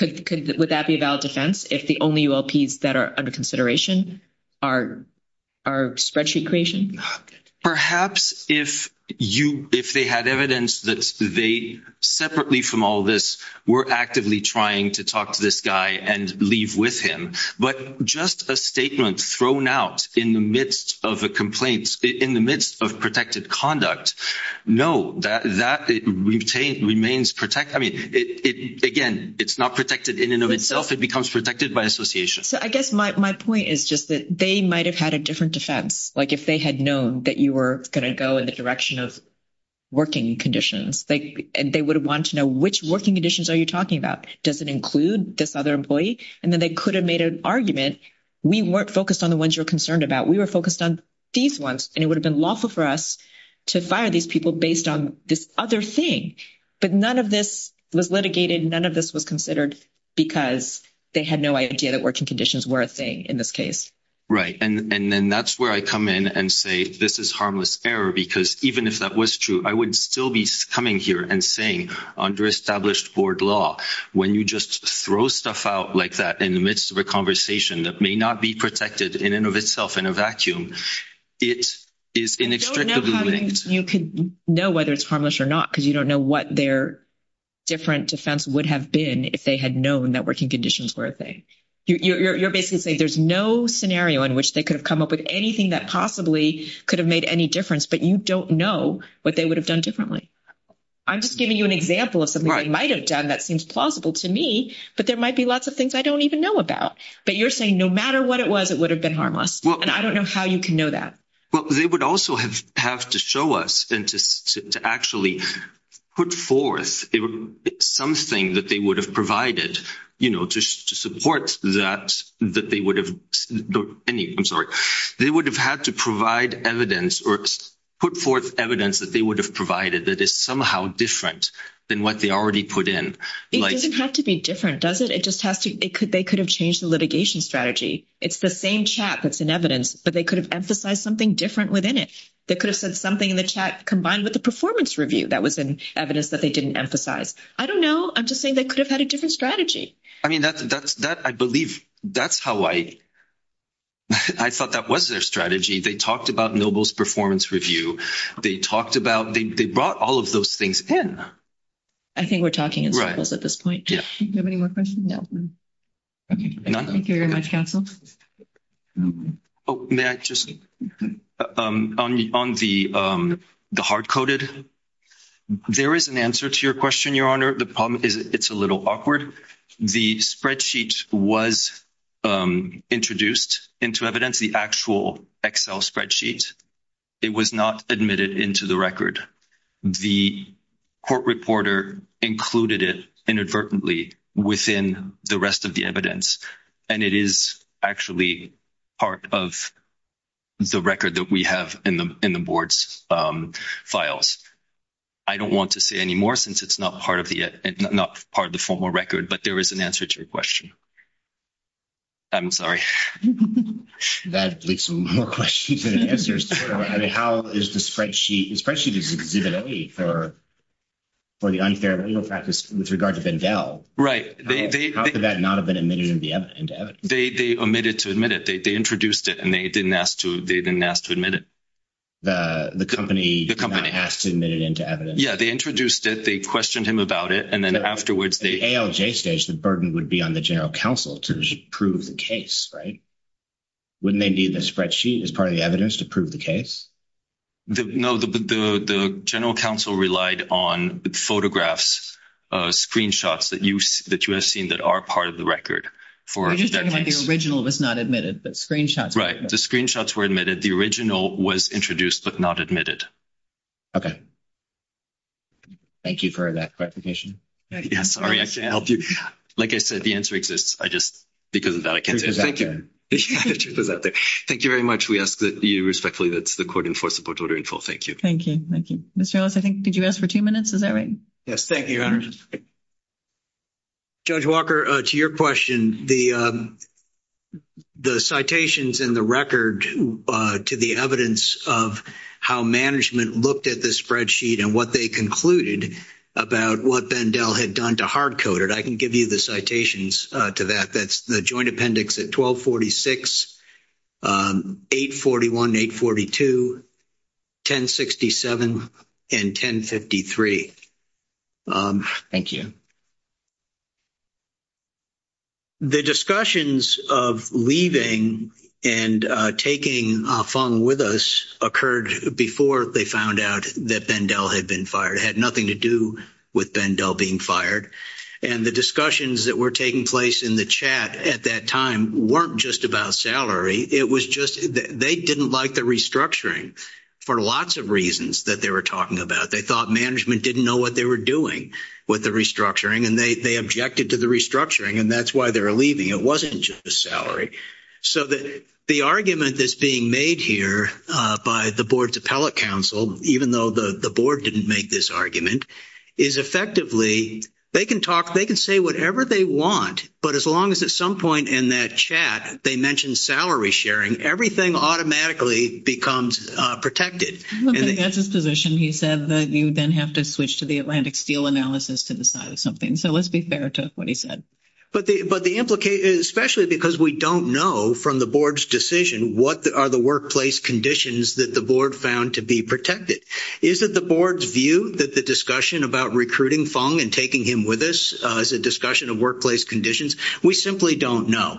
if the only ULPs that are under consideration are spreadsheet creation perhaps if they had evidence that they separately from all this were actively trying to talk to this guy and leave with him but just a statement thrown out in the midst of a complaint in the midst of protected conduct no that remains protected again it's not protected in and of itself it becomes protected by association I guess my point is that they might have had a different defense like if they had known that you were going to go in the direction of working conditions they would have wanted to know which working conditions are you talking about does it include this other employee and then they could have made an argument we weren't focused on the ones you're concerned about we were focused on these ones and it would have been lawful for us to fire these people based on this other thing but none of this was litigated none of this was considered because they had no idea that working conditions were a thing in this case and that's where I come in and say this is harmless error because even if that was true I would still be coming here and saying under established board law when you just throw stuff out like that in the midst of a conversation that may not be protected in and of itself in a vacuum you can know whether it's harmless or not because you don't know what their different defense would have been if they had known that working conditions were a thing you're basically saying there's no scenario in which they could have come up with anything that possibly could have made any difference but you don't know what they would have done differently I'm just giving you an example of something they might have done that seems plausible to me but there might be lots of things I don't even know about but you're saying no matter what it was it would have been harmless and I don't know how you can know that they would also have to show us to actually put forth something that they would have provided to support that they would have had to provide evidence or put forth evidence that they would have provided that is somehow different than what they already put in it doesn't have to be different does it? they could have changed the litigation strategy it's the same chat that's in evidence but they could have emphasized something different within it they could have said something in the chat combined with the performance review that was evidence that they didn't emphasize I don't know I'm just saying they could have had a different strategy I thought that was their strategy they talked about Noble's performance review they brought all of those things in I think we're talking about this at this point do you have any more questions? thank you very much counsel may I just on the hardcoded there is an answer to your question your honor the problem is it's a little awkward the spreadsheet was introduced into evidence the actual excel spreadsheet it was not admitted into the record the court reporter included it inadvertently within the rest of the evidence and it is actually part of the record that we have in the board's files I don't want to say anymore since it's not part of the formal record but there is an answer to your question I'm sorry that leads to more questions how is the spreadsheet for the unfair legal practice with regard to Bendel they omitted to admit it they introduced it and they didn't ask to admit it the company yeah they introduced it they questioned him about it the burden would be on the general counsel to prove the case wouldn't they need the spreadsheet as part of the evidence to prove the case the general counsel relied on photographs screenshots that you have seen that are part of the record the screenshots were admitted the original was introduced but not admitted ok thank you for that clarification like I said the answer exists thank you thank you very much thank you thank you Judge Walker to your question the citations in the record to the evidence how management looked at the spreadsheet and what they concluded I can give you the citations the joint appendix 1246, 841, 842 1067 and 1053 thank you the discussions of leaving and taking Fung with us occurred before they found out that Bendel had been fired it had nothing to do with Bendel being fired and the discussions that were taking place in the chat at that time weren't just about salary they didn't like the restructuring for lots of reasons they thought management didn't know what they were doing they objected to the restructuring it wasn't just the salary the argument that is being made here by the board's appellate counsel even though the board didn't make this argument they can say whatever they want but as long as at some point in that chat they mention salary sharing everything automatically becomes protected he said you have to switch to the Atlantic Steel analysis so let's be fair especially because we don't know from the board's decision what are the workplace conditions that the board found to be protected is it the board's view that the discussion about recruiting Fung and taking him with us is a discussion of workplace conditions we simply don't know thank you